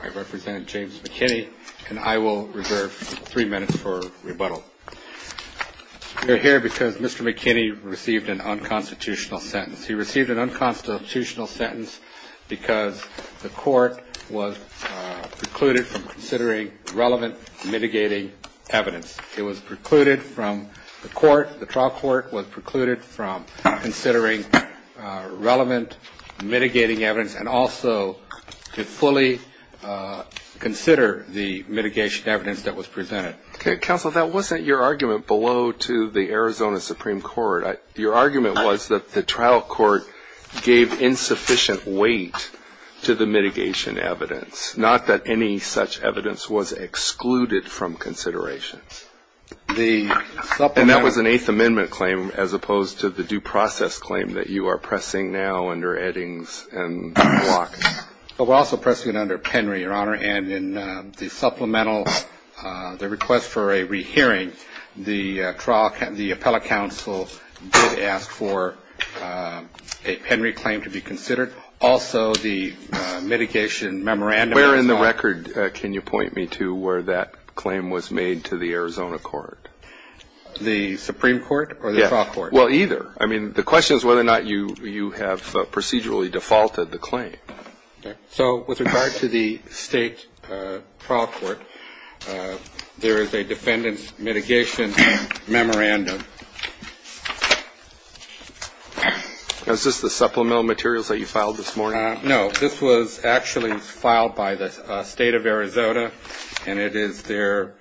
I represent James McKinney and I will reserve three minutes for rebuttal. We are here because Mr. McKinney received an unconstitutional sentence. He received an unconstitutional sentence because the court was precluded from considering relevant mitigating evidence. It was precluded from the court, the trial court was precluded from considering relevant mitigating evidence and also to fully consider the mitigation evidence that was presented. Okay counsel, that wasn't your argument below to the Arizona Supreme Court. Your argument was that the trial court gave insufficient weight to the mitigation evidence, not that any such evidence was excluded from consideration. And that was an Eighth Amendment claim as opposed to the due process claim that you are pressing now under Eddings and Block. We're also pressing under Penry, Your Honor, and in the supplemental request for a rehearing, the appellate counsel did ask for a Penry claim to be considered. Is there also the mitigation memorandum? Where in the record can you point me to where that claim was made to the Arizona court? The Supreme Court or the trial court? Well, either. I mean the question is whether or not you have procedurally defaulted the claim. So with regard to the state trial court, there is a defendant's mitigation memorandum. Is this the supplemental materials that you filed this morning? No. This was actually filed by the state of Arizona, and it is their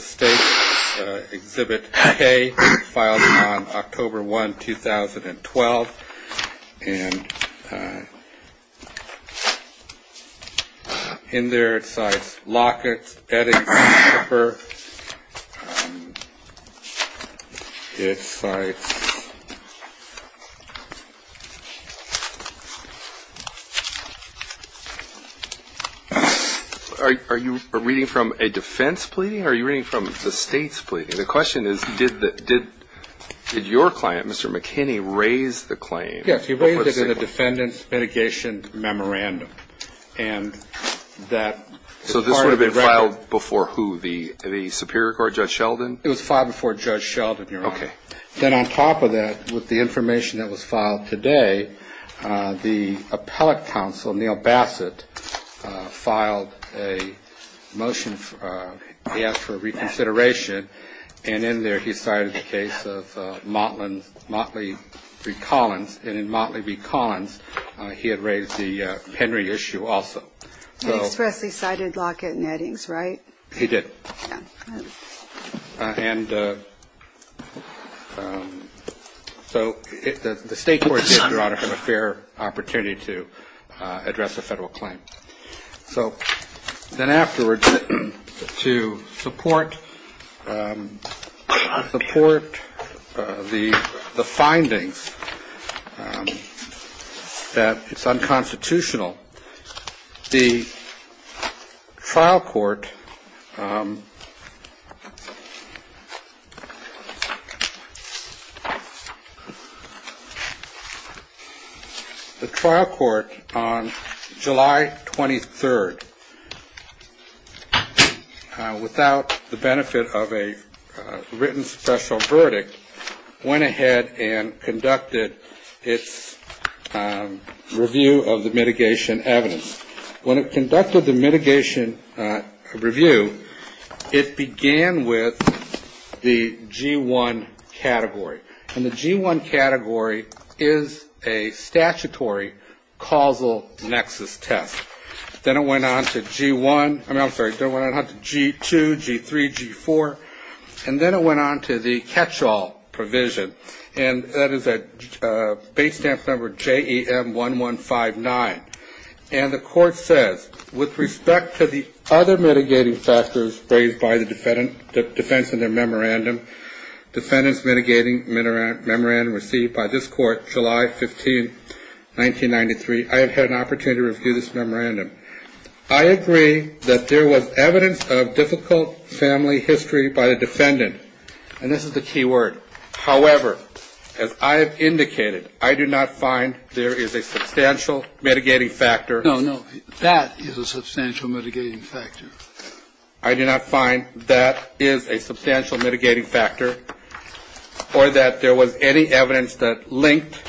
state exhibit K, filed on October 1, 2012. And in there it says Lockett, Eddings, Cooper. Are you reading from a defense plea or are you reading from the state's plea? The question is did your client, Mr. McKinney, raise the claim? Yes, he raised it in a defendant's mitigation memorandum. So this would have been filed before who, the Superior Court, Judge Sheldon? It was filed before Judge Sheldon, Your Honor. Then on top of that was the information that was filed today. The appellate counsel, Neal Bassett, filed a motion to ask for reconsideration, and in there he cited the case of Motley v. Collins, and in Motley v. Collins he had raised the Henry issue also. He expressly cited Lockett and Eddings, right? He did. And so the state court gave your auditor a fair opportunity to address the federal claim. So then afterwards, to support the findings that it's unconstitutional, the trial court The trial court on July 23rd, without the benefit of a written special verdict, went ahead and conducted its review of the mitigation evidence. When it conducted the mitigation review, it began with the G-1 category, and the G-1 category is a statutory causal nexus test. Then it went on to G-2, G-3, G-4, and then it went on to the catch-all provision, and that is a base stamp number J-A-M-1-1-5-9. And the court said, with respect to the other mitigating factors raised by the defendants in their memorandum, defendants mitigating memorandum received by this court July 15, 1993, I have had an opportunity to review this memorandum. I agree that there was evidence of difficult family history by the defendants, and this is the key word. However, as I have indicated, I do not find there is a substantial mitigating factor. No, no, that is a substantial mitigating factor. I do not find that is a substantial mitigating factor, or that there was any evidence that linked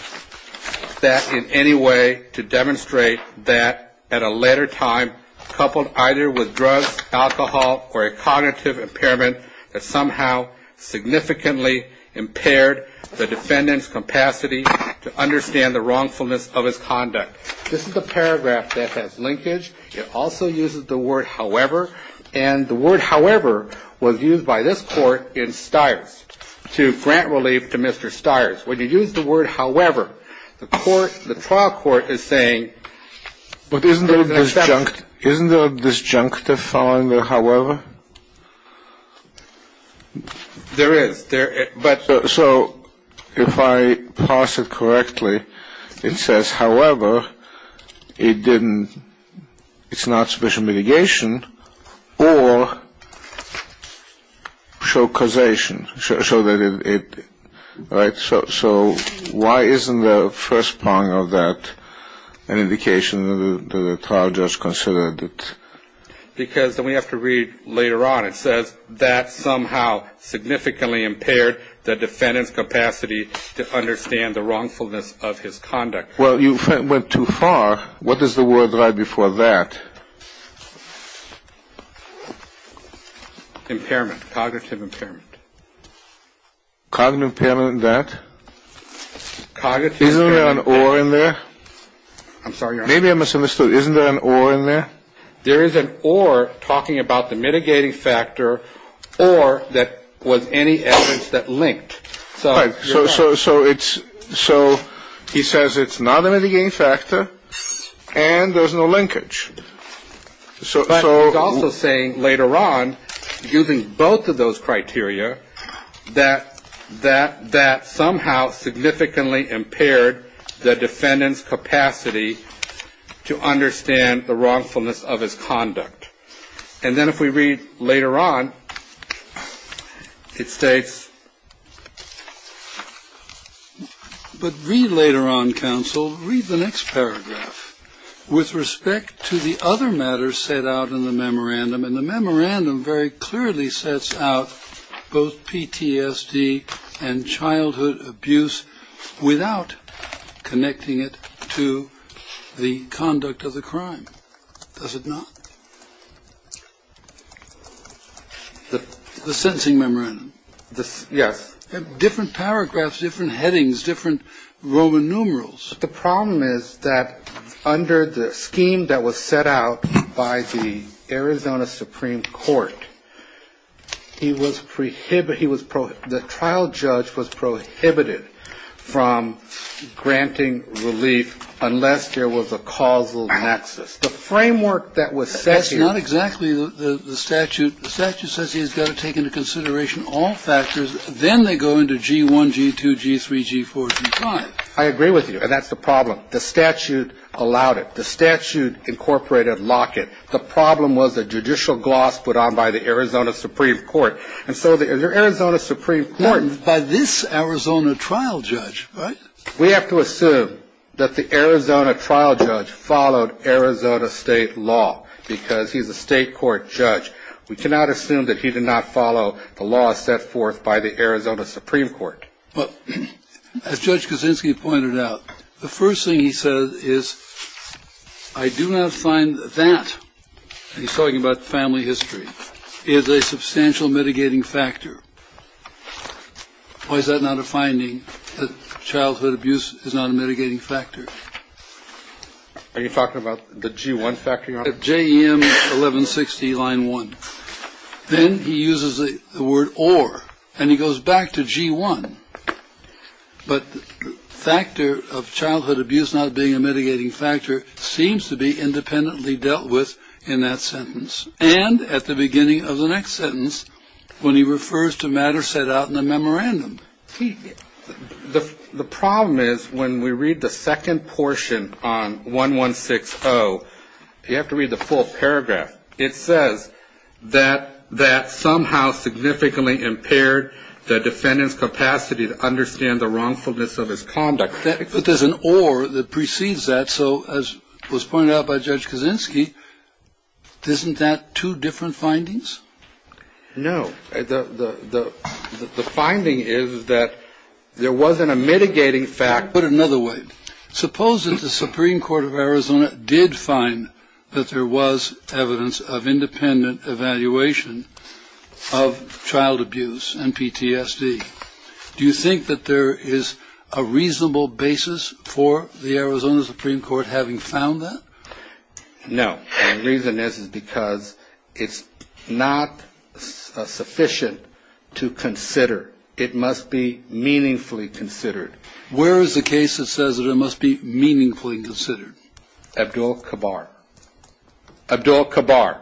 that in any way to demonstrate that, at a later time, coupled either with drugs, alcohol, or a cognitive impairment that somehow significantly impaired the defendant's capacity to understand the wrongfulness of his conduct. This is a paragraph that has linkage. It also uses the word however, and the word however was used by this court in Stires to grant relief to Mr. Stires. When you use the word however, the trial court is saying... Isn't there a disjunctive following the however? There is. So if I parse it correctly, it says, however, it's not sufficient mitigation, or show causation. So why isn't the first prong of that an indication that the trial judge considered it? Because then we have to read later on. It says that somehow significantly impaired the defendant's capacity to understand the wrongfulness of his conduct. Well, you went too far. What is the word right before that? Impairment, cognitive impairment. Cognitive impairment in that? Cognitive impairment... Isn't there an or in there? I'm sorry, your Honor. Maybe I misunderstood. Isn't there an or in there? There is an or talking about the mitigating factor, or that was any evidence that linked. So he says it's not a mitigating factor, and there's no linkage. So he's also saying later on, using both of those criteria, that somehow significantly impaired the defendant's capacity to understand the wrongfulness of his conduct. And then if we read later on, it says... But read later on, counsel. Read the next paragraph with respect to the other matters set out in the memorandum. And the memorandum very clearly sets out both PTSD and childhood abuse without connecting it to the conduct of the crime, does it not? The sentencing memorandum. Yeah. Different paragraphs, different headings, different Roman numerals. The problem is that under the scheme that was set out by the Arizona Supreme Court, the trial judge was prohibited from granting relief unless there was a causal nexus. That's not exactly the statute. The statute says he's got to take into consideration all factors. Then they go into G1, G2, G3, G4, G5. I agree with you, and that's the problem. The statute allowed it. The statute incorporated Lockett. The problem was a judicial gloss put on by the Arizona Supreme Court. And so the Arizona Supreme Court... By this Arizona trial judge, right? We have to assume that the Arizona trial judge followed Arizona state law because he's a state court judge. We cannot assume that he did not follow the law set forth by the Arizona Supreme Court. But as Judge Kaczynski pointed out, the first thing he said is, I do not find that... He's talking about family history. ...is a substantial mitigating factor. Why is that not a finding, that childhood abuse is not a mitigating factor? Are you talking about the G1 factor? JEM 1160, line 1. Then he uses the word or, and he goes back to G1. But the factor of childhood abuse not being a mitigating factor seems to be independently dealt with in that sentence. And at the beginning of the next sentence, when he refers to matters set out in the memorandum. The problem is when we read the second portion on 1160, you have to read the full paragraph. It says that somehow significantly impaired the defendant's capacity to understand the wrongfulness of his conduct. But there's an or that precedes that. So as was pointed out by Judge Kaczynski, isn't that two different findings? No. The finding is that there wasn't a mitigating factor. I'll put it another way. Suppose that the Supreme Court of Arizona did find that there was evidence of independent evaluation of child abuse and PTSD. Do you think that there is a reasonable basis for the Arizona Supreme Court having found that? No. The reason is because it's not sufficient to consider. It must be meaningfully considered. Where is the case that says that it must be meaningfully considered? Abdul-Kabar. Abdul-Kabar.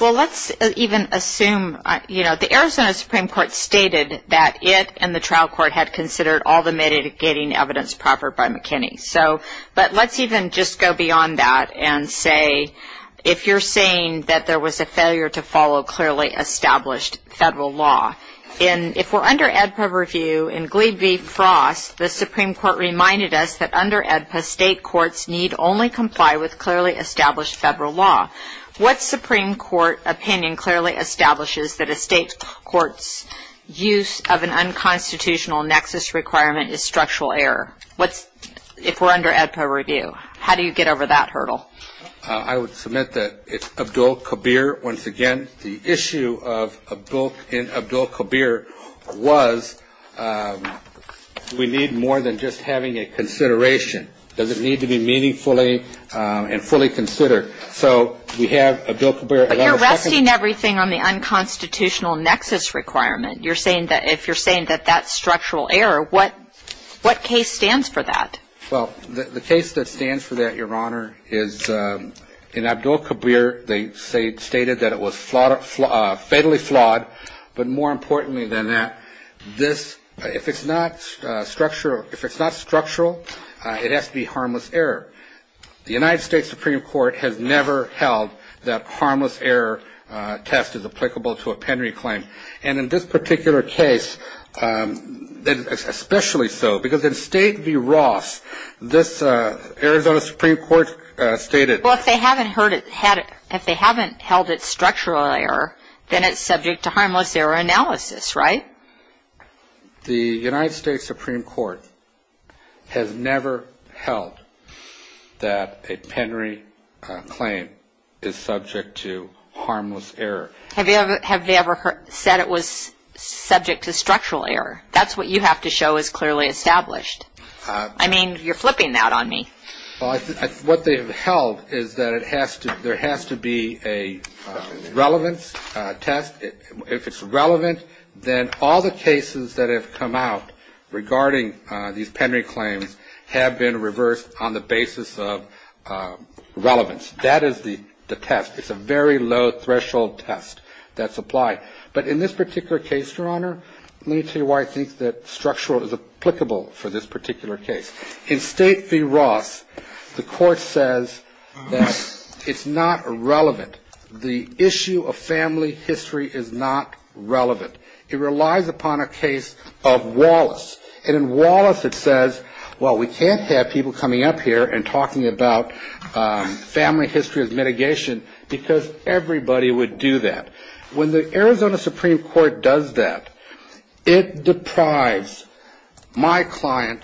Well, let's even assume the Arizona Supreme Court stated that it and the trial court had considered all the mitigating evidence proper by McKinney. But let's even just go beyond that and say if you're saying that there was a failure to follow clearly established federal law. If we're under AEDPA review in Gleevee-Frost, the Supreme Court reminded us that under AEDPA, state courts need only comply with clearly established federal law. What Supreme Court opinion clearly establishes that a state court's use of an unconstitutional nexus requirement is structural error? If we're under AEDPA review, how do you get over that hurdle? I would submit that it's Abdul-Kabir. Once again, the issue in Abdul-Kabir was we need more than just having a consideration. Does it need to be meaningfully and fully considered? So we have Abdul-Kabir. But you're resting everything on the unconstitutional nexus requirement. If you're saying that that's structural error, what case stands for that? Well, the case that stands for that, Your Honor, is in Abdul-Kabir. They stated that it was fatally flawed. But more importantly than that, if it's not structural, it has to be harmless error. The United States Supreme Court has never held that harmless error test is applicable to a pending claim. And in this particular case, especially so, because in State v. Ross, this Arizona Supreme Court stated- Well, if they haven't held it structural error, then it's subject to harmless error analysis, right? The United States Supreme Court has never held that a pending claim is subject to harmless error. Have they ever said it was subject to structural error? That's what you have to show is clearly established. I mean, you're flipping that on me. What they have held is that there has to be a relevant test. If it's relevant, then all the cases that have come out regarding these pending claims have been reversed on the basis of relevance. That is the test. It's a very low-threshold test that's applied. But in this particular case, Your Honor, let me tell you why I think that structural is applicable for this particular case. In State v. Ross, the court says that it's not relevant. The issue of family history is not relevant. It relies upon a case of Wallace. In Wallace, it says, well, we can't have people coming up here and talking about family history as mitigation because everybody would do that. When the Arizona Supreme Court does that, it deprives my client,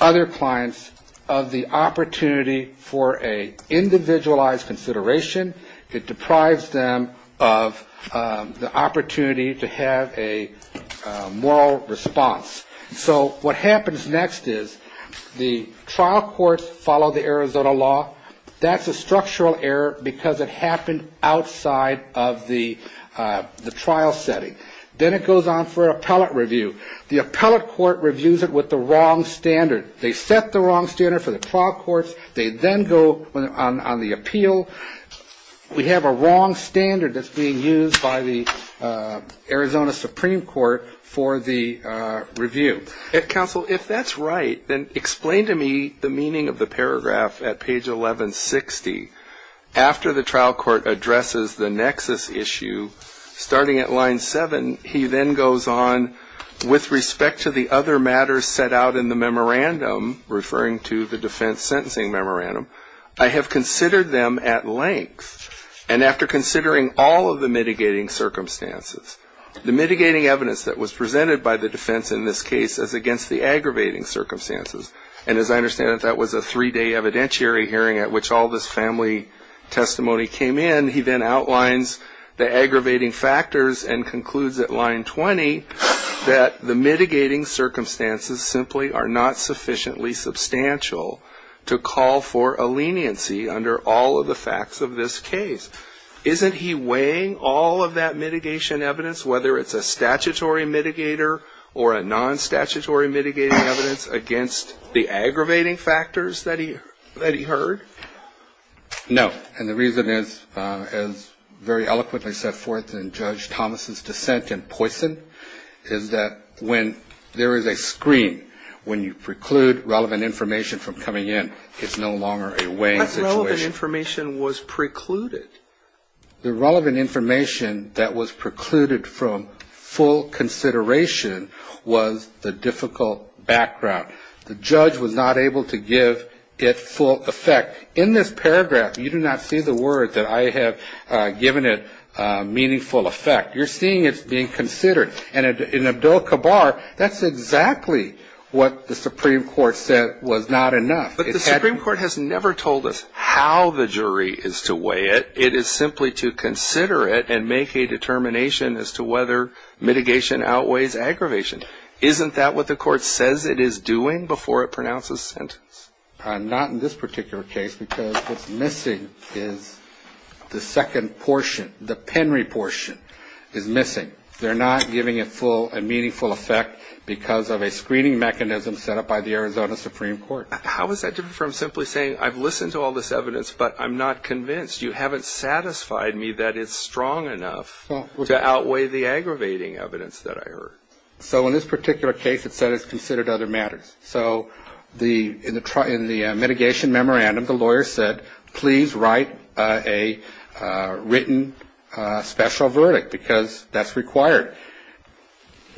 other clients, of the opportunity for an individualized consideration. It deprives them of the opportunity to have a moral response. So what happens next is the trial courts follow the Arizona law. That's a structural error because it happened outside of the trial setting. Then it goes on for appellate review. The appellate court reviews it with the wrong standard. They set the wrong standard for the trial courts. They then go on the appeal. We have a wrong standard that's being used by the Arizona Supreme Court for the review. Counsel, if that's right, then explain to me the meaning of the paragraph at page 1160. After the trial court addresses the nexus issue, starting at line 7, he then goes on, with respect to the other matters set out in the memorandum, referring to the defense sentencing memorandum, I have considered them at length and after considering all of the mitigating circumstances. The mitigating evidence that was presented by the defense in this case is against the aggravating circumstances. As I understand it, that was a three-day evidentiary hearing at which all this family testimony came in. He then outlines the aggravating factors and concludes at line 20 that the mitigating circumstances simply are not sufficiently substantial to call for a leniency under all of the facts of this case. Isn't he weighing all of that mitigation evidence, whether it's a statutory mitigator or a non-statutory mitigating evidence, against the aggravating factors that he heard? No. And the reason is, as very eloquently set forth in Judge Thomas' dissent in Poison, is that when there is a screen, when you preclude relevant information from coming in, it's no longer a weighing situation. That relevant information was precluded. The relevant information that was precluded from full consideration was the difficult background. The judge was not able to give it full effect. In this paragraph, you do not see the words that I have given it meaningful effect. You're seeing it being considered. And in Abdul-Kabar, that's exactly what the Supreme Court said was not enough. But the Supreme Court has never told us how the jury is to weigh it. It is simply to consider it and make a determination as to whether mitigation outweighs aggravation. Isn't that what the court says it is doing before it pronounces a sentence? Not in this particular case because what's missing is the second portion, the Penry portion is missing. They're not giving it full and meaningful effect because of a screening mechanism set up by the Arizona Supreme Court. How is that different from simply saying, I've listened to all this evidence, but I'm not convinced. You haven't satisfied me that it's strong enough to outweigh the aggravating evidence that I heard. So in this particular case, it says it's considered other matters. So in the mitigation memorandum, the lawyer said, please write a written special verdict because that's required.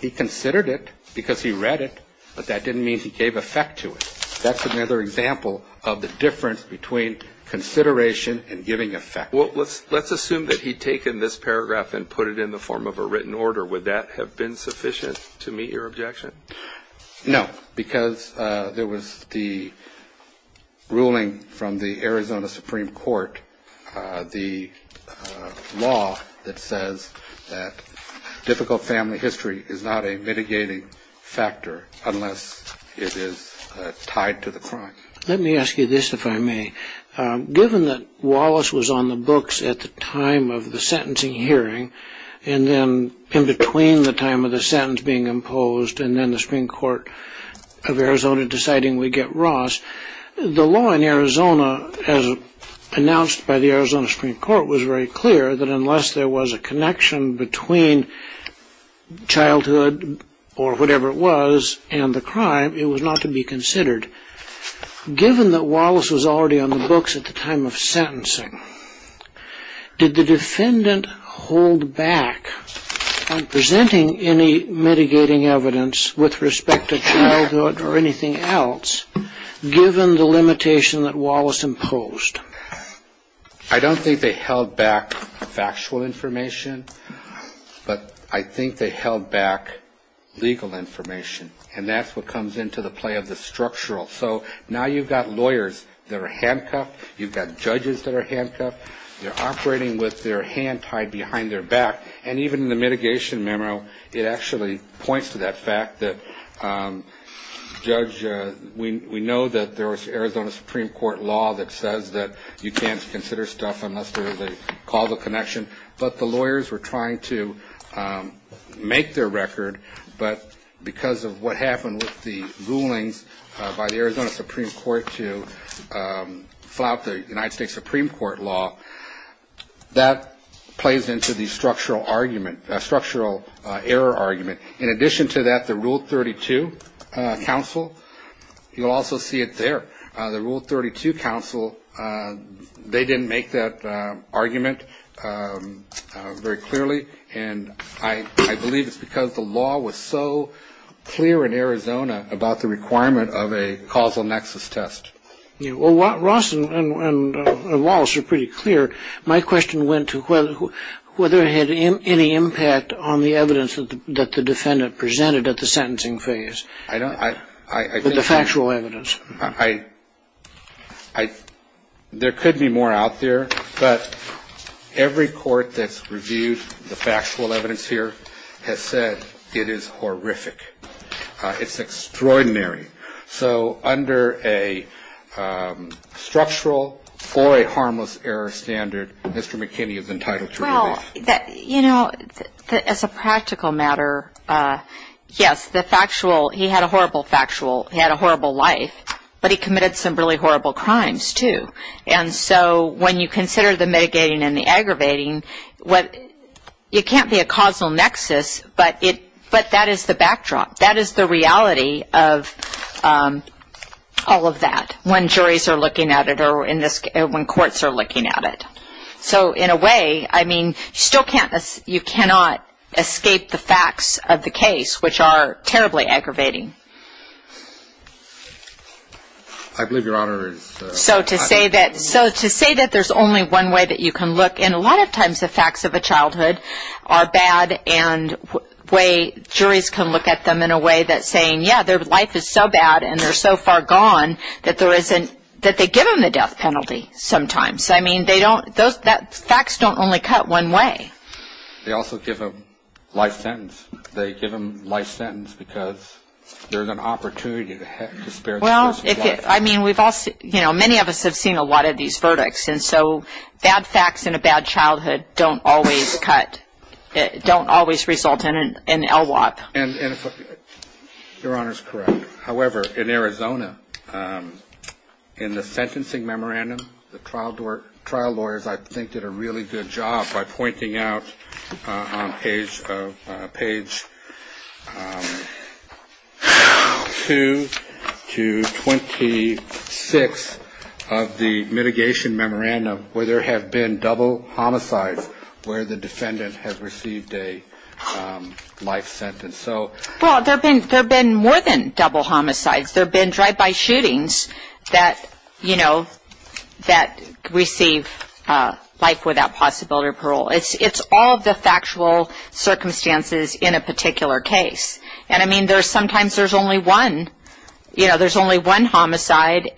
He considered it because he read it, but that didn't mean he gave effect to it. That's another example of the difference between consideration and giving effect. Well, let's assume that he'd taken this paragraph and put it in the form of a written order. Would that have been sufficient to meet your objection? No, because there was the ruling from the Arizona Supreme Court, the law that says that difficult family history is not a mitigating factor unless it is tied to the crime. Let me ask you this, if I may. Given that Wallace was on the books at the time of the sentencing hearing, and then in between the time of the sentence being imposed, and then the Supreme Court of Arizona deciding we get Ross, the law in Arizona, as announced by the Arizona Supreme Court, was very clear that unless there was a connection between childhood or whatever it was and the crime, it was not to be considered. Given that Wallace was already on the books at the time of sentencing, did the defendant hold back on presenting any mitigating evidence with respect to childhood or anything else, given the limitation that Wallace imposed? I don't think they held back factual information, but I think they held back legal information. And that's what comes into the play of the structural. So now you've got lawyers that are handcuffed. You've got judges that are handcuffed. They're operating with their hand tied behind their back. And even in the mitigation memo, it actually points to that fact that we know that there was Arizona Supreme Court law that says that you can't consider stuff unless there is a causal connection. But the lawyers were trying to make their record, but because of what happened with the rulings by the Arizona Supreme Court to file the United States Supreme Court law, that plays into the structural error argument. In addition to that, the Rule 32 counsel, you'll also see it there. The Rule 32 counsel, they didn't make that argument very clearly, and I believe it's because the law was so clear in Arizona about the requirement of a causal nexus test. Well, Ross and Wallace are pretty clear. My question went to whether it had any impact on the evidence that the defendant presented at the sentencing phase with the factual evidence. There could be more out there, but every court that's reviewed the factual evidence here has said it is horrific. It's extraordinary. So under a structural or a harmless error standard, Mr. McKinney is entitled to release. You know, as a practical matter, yes, the factual, he had a horrible factual. He had a horrible life, but he committed some really horrible crimes, too. And so when you consider the mitigating and the aggravating, it can't be a causal nexus, but that is the backdrop. That is the reality of all of that when juries are looking at it or when courts are looking at it. So in a way, I mean, you cannot escape the facts of the case, which are terribly aggravating. So to say that there's only one way that you can look, and a lot of times the facts of a childhood are bad and way juries can look at them in a way that's saying, yeah, their life is so bad and they're so far gone that they give them the death penalty sometimes. I mean, they don't, facts don't only cut one way. They also give them life sentence. They give them life sentence because there's an opportunity to spare the person's life. Well, I mean, we've all, you know, many of us have seen a lot of these verdicts, and so bad facts in a bad childhood don't always cut, don't always result in an LWOP. Your Honor is correct. However, in Arizona, in the sentencing memorandum, the trial lawyers I think did a really good job by pointing out on page 2 to 26 of the mitigation memorandum where there have been double homicides where the defendant has received a life sentence. Well, there have been more than double homicides. There have been drive-by shootings that, you know, that receive life without possibility of parole. It's all the factual circumstances in a particular case. And I mean, sometimes there's only one, you know, there's only one homicide,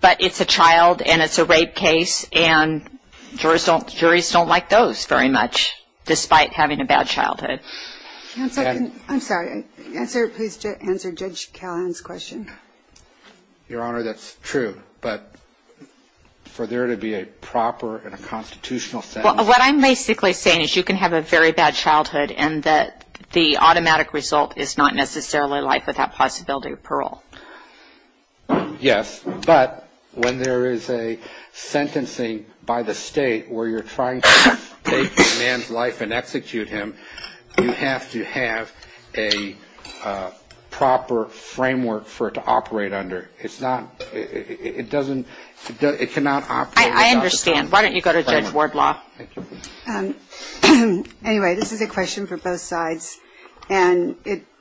but it's a child and it's a rape case, and juries don't like those very much despite having a bad childhood. I'm sorry. Answer Judge Callahan's question. Your Honor, that's true. But for there to be a proper and a constitutional sentence. What I'm basically saying is you can have a very bad childhood and that the automatic result is not necessarily life without possibility of parole. Yes. But when there is a sentencing by the state where you're trying to take a man's life and execute him, you have to have a proper framework for it to operate under. It's not, it doesn't, it cannot operate without a framework. I understand. Why don't you go to Judge Wardlaw. Anyway, this is a question for both sides. And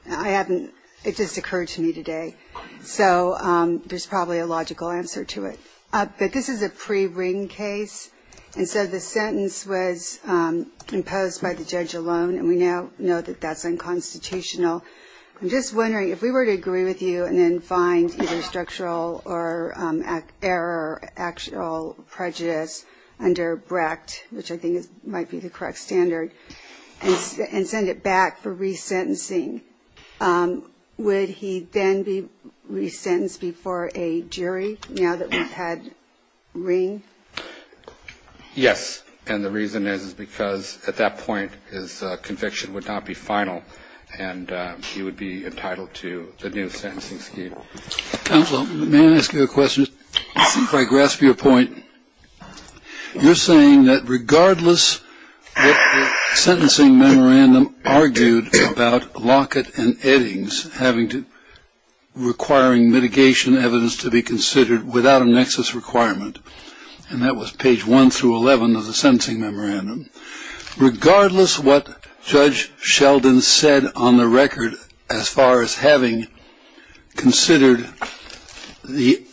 I haven't, it just occurred to me today. So there's probably a logical answer to it. But this is a pre-ring case, and so the sentence was imposed by the judge alone, and we now know that that's unconstitutional. I'm just wondering, if we were to agree with you and then find either structural or error or actual prejudice under Brecht, which I think might be the correct standard, and send it back for resentencing, would he then be resentenced before a jury now that we've had ring? Yes. And the reason is because at that point his conviction would not be final and he would be entitled to the new sentencing scheme. Counsel, may I ask you a question? If I grasp your point, you're saying that regardless what the sentencing memorandum argued about Lockett and Eddings requiring mitigation evidence to be considered without a nexus requirement, and that was page 1 through 11 of the sentencing memorandum, regardless what Judge Sheldon said on the record as far as having considered the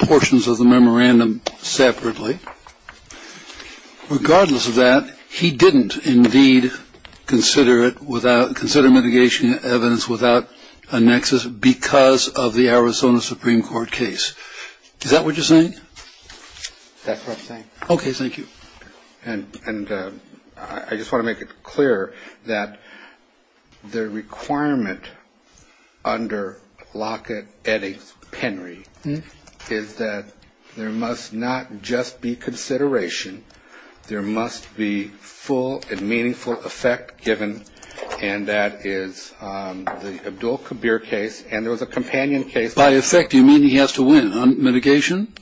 portions of the memorandum separately, regardless of that, he didn't indeed consider mitigation evidence without a nexus because of the Arizona Supreme Court case. Is that what you're saying? That's what I'm saying. Okay, thank you. And I just want to make it clear that the requirement under Lockett-Eddings-Penry is that there must not just be consideration. There must be full and meaningful effect given, and that is the Abdul Kabir case, and there was a companion case. By effect, you mean he has to win on mitigation?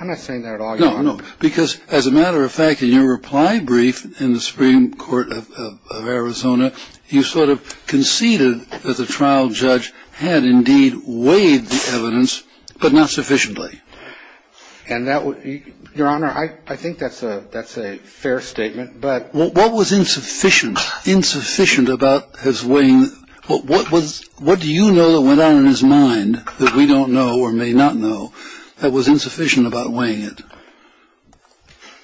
I'm not saying that at all. No, because as a matter of fact, in your reply brief in the Supreme Court of Arizona, you sort of conceded that the trial judge had indeed weighed the evidence, but not sufficiently. Your Honor, I think that's a fair statement. What was insufficient about his weighing it? What do you know that went on in his mind that we don't know or may not know that was insufficient about weighing it?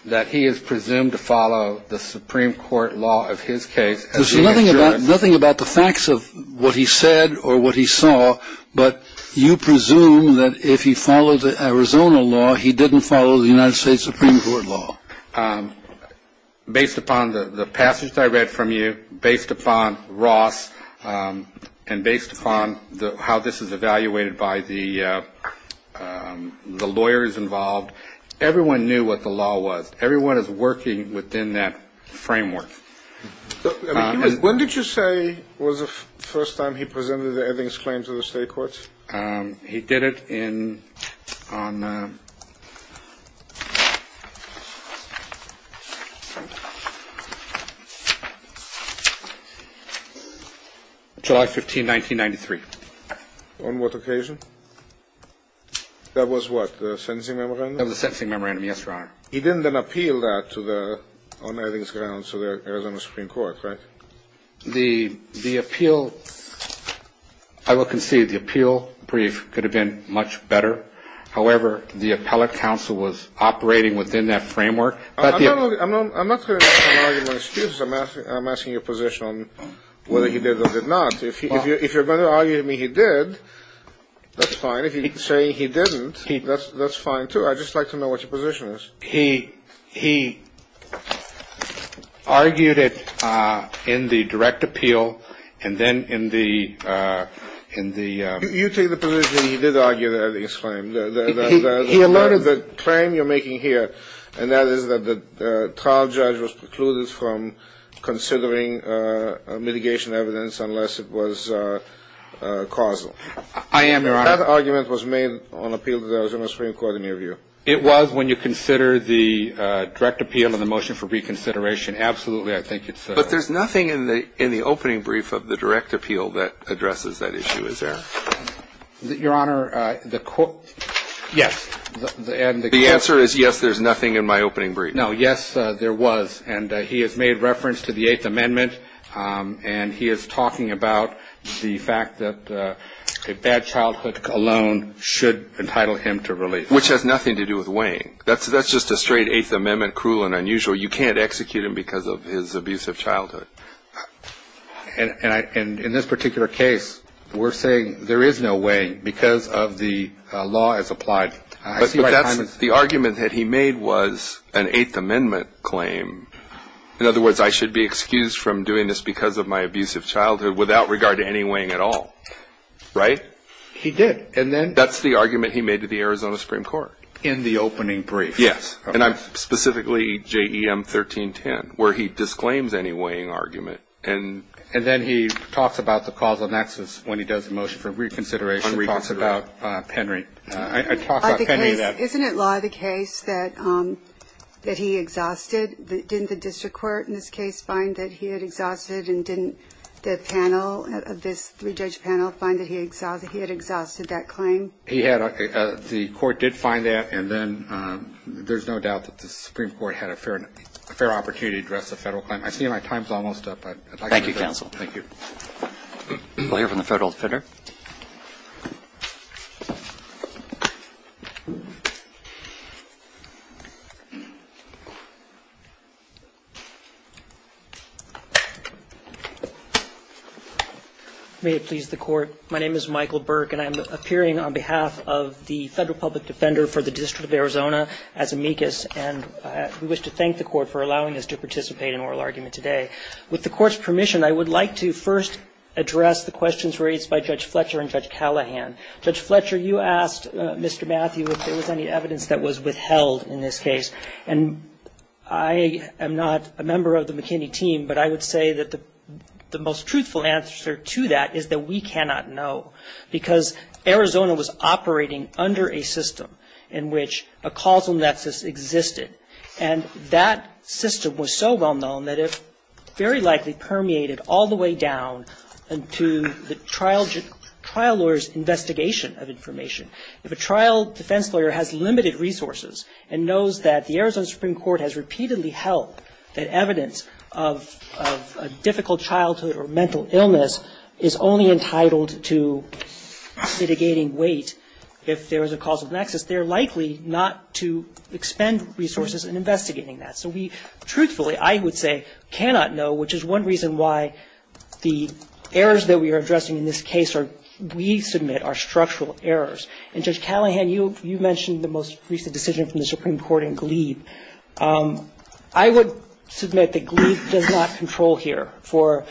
That he is presumed to follow the Supreme Court law of his case. There's nothing about the facts of what he said or what he saw, but you presume that if he followed the Arizona law, he didn't follow the United States Supreme Court law. Based upon the passage I read from you, based upon Ross, and based upon how this is evaluated by the lawyers involved, everyone knew what the law was. Everyone is working within that framework. When did you say it was the first time he presented the Evans claim to the state courts? He did it on July 15, 1993. On what occasion? That was what, the sentencing memorandum? That was the sentencing memorandum, yes, Your Honor. He didn't then appeal that on Evans' grounds to the Arizona Supreme Court, right? The appeal, I will concede the appeal brief could have been much better. However, the appellate counsel was operating within that framework. I'm not going to argue my excuses. I'm asking your position on whether he did or did not. If you're going to argue to me he did, that's fine. If you say he didn't, that's fine, too. I'd just like to know what your position is. He argued it in the direct appeal, and then in the... You take the position he did argue it, that is fine. He allotted the claim you're making here, and that is that the trial judge was precluded from considering mitigation evidence unless it was causal. I am, Your Honor. That argument was made on appeal to the Arizona Supreme Court in your view. It was when you consider the direct appeal and the motion for reconsideration. Absolutely, I think it's... But there's nothing in the opening brief of the direct appeal that addresses that issue, is there? Your Honor, the court... Yes. The answer is yes, there's nothing in my opening brief. No, yes, there was. And he has made reference to the Eighth Amendment, and he is talking about the fact that a bad childhood alone should entitle him to release. Which has nothing to do with weighing. That's just a straight Eighth Amendment, cruel and unusual. You can't execute him because of his abusive childhood. And in this particular case, we're saying there is no weighing because of the law as applied. But that's the argument that he made was an Eighth Amendment claim. In other words, I should be excused from doing this because of my abusive childhood without regard to any weighing at all. Right? He did, and then... In the opening brief. Yes. And I'm specifically J.E.M. 1310, where he disclaims any weighing argument. And then he talks about the causal nexus when he does the motion for reconsideration. He talks about Henry. Isn't it law of the case that he exhausted? Didn't the district court in this case find that he had exhausted, and didn't the panel of this three-judge panel find that he had exhausted that claim? He had. The court did find that. And then there's no doubt that the Supreme Court had a fair opportunity to address the federal claim. I see my time's almost up. Thank you, counsel. Thank you. May it please the court. My name is Michael Burke, and I'm appearing on behalf of the federal public defender for the District of Arizona, as amicus, and I wish to thank the court for allowing us to participate in oral argument today. With the court's permission, I would like to first address the questions raised by Judge Fletcher and Judge Callahan. Judge Fletcher, you asked Mr. Matthew if there was any evidence that was withheld in this case. And I am not a member of the McKinney team, but I would say that the most truthful answer to that is that we cannot know, because Arizona was operating under a system in which a causal nexus existed. And that system was so well-known that it very likely permeated all the way down into the trial lawyer's investigation of information. If a trial defense lawyer has limited resources and knows that the Arizona Supreme Court has repeatedly held that evidence of a difficult childhood or mental illness is only entitled to mitigating weight if there is a causal nexus, they're likely not to expend resources in investigating that. So we, truthfully, I would say, cannot know, which is one reason why the errors that we are addressing in this case are, we submit, are structural errors. And Judge Callahan, you mentioned the most recent decision from the Supreme Court in Gleeve. I would submit that Gleeve did not control here for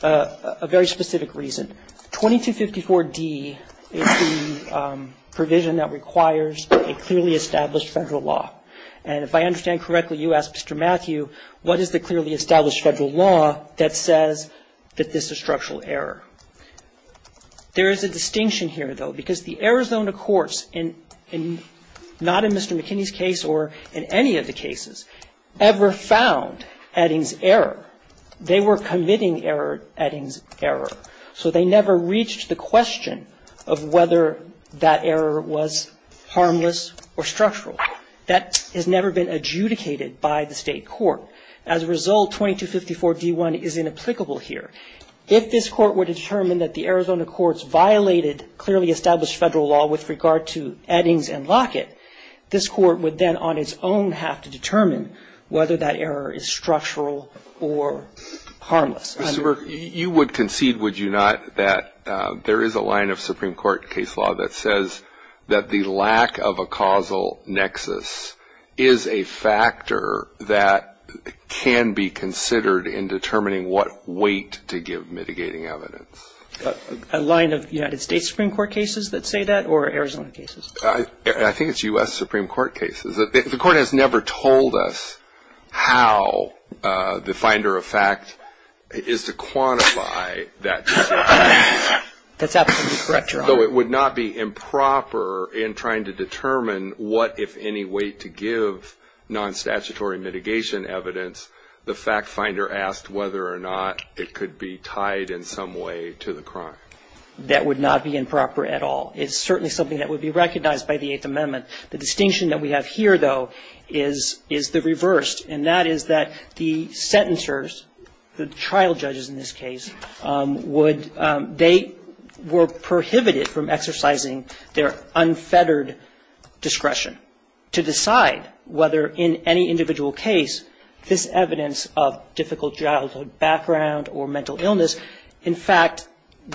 a very specific reason. 2254D is the provision that requires a clearly established federal law. And if I understand correctly, you asked Mr. Matthew, what is the clearly established federal law that says that this is structural error? There is a distinction here, though, because the Arizona courts, not in Mr. McKinney's case or in any of the cases, ever found Edding's error. They were committing Edding's error. So they never reached the question of whether that error was harmless or structural. That has never been adjudicated by the state court. As a result, 2254D1 is inapplicable here. If this court were to determine that the Arizona courts violated clearly established federal law with regard to Edding's and Lockett, this court would then on its own have to determine whether that error is structural or harmless. Mr. Burke, you would concede, would you not, that there is a line of Supreme Court case law that says that the lack of a causal nexus is a factor that can be considered in determining what weight to give mitigating evidence? A line of United States Supreme Court cases that say that or Arizona cases? I think it's U.S. Supreme Court cases. The court has never told us how the finder of fact is to quantify that. That's absolutely correct, Your Honor. Although it would not be improper in trying to determine what, if any, weight to give non-statutory mitigation evidence, the fact finder asked whether or not it could be tied in some way to the crime. That would not be improper at all. It's certainly something that would be recognized by the Eighth Amendment. The distinction that we have here, though, is the reverse, and that is that the sentencers, the trial judges in this case, they were prohibited from exercising their unfettered discretion to decide whether in any individual case this evidence of difficult childhood background or mental illness, in fact,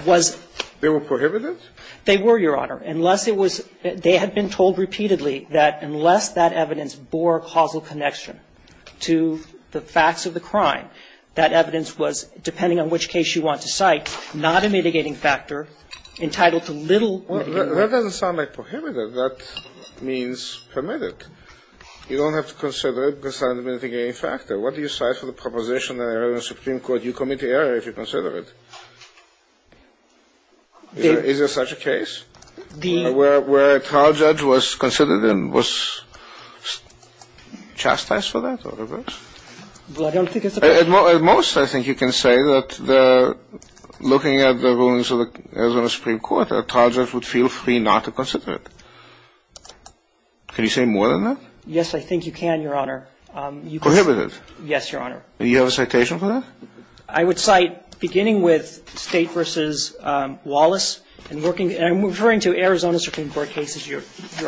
was... There were prohibitions? There were, Your Honor. They had been told repeatedly that unless that evidence bore causal connection to the facts of the crime, that evidence was, depending on which case you want to cite, not a mitigating factor, entitled to little... That doesn't sound like prohibited. That means permitted. You don't have to consider it because it's not a mitigating factor. What do you cite for the proposition in the Arizona Supreme Court? You commit the error if you consider it. Is there such a case where a trial judge was considered and was chastised for that? At most, I think you can say that looking at the rulings of the Arizona Supreme Court, a trial judge would feel free not to consider it. Can you say more than that? Yes, I think you can, Your Honor. Prohibited? Yes, Your Honor. Do you have a citation for that? I would cite beginning with State v. Wallace and working... I'm referring to Arizona Supreme Court cases, Your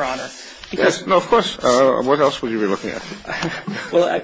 Honor. Yes, well, of course. What else would you be looking at? Well,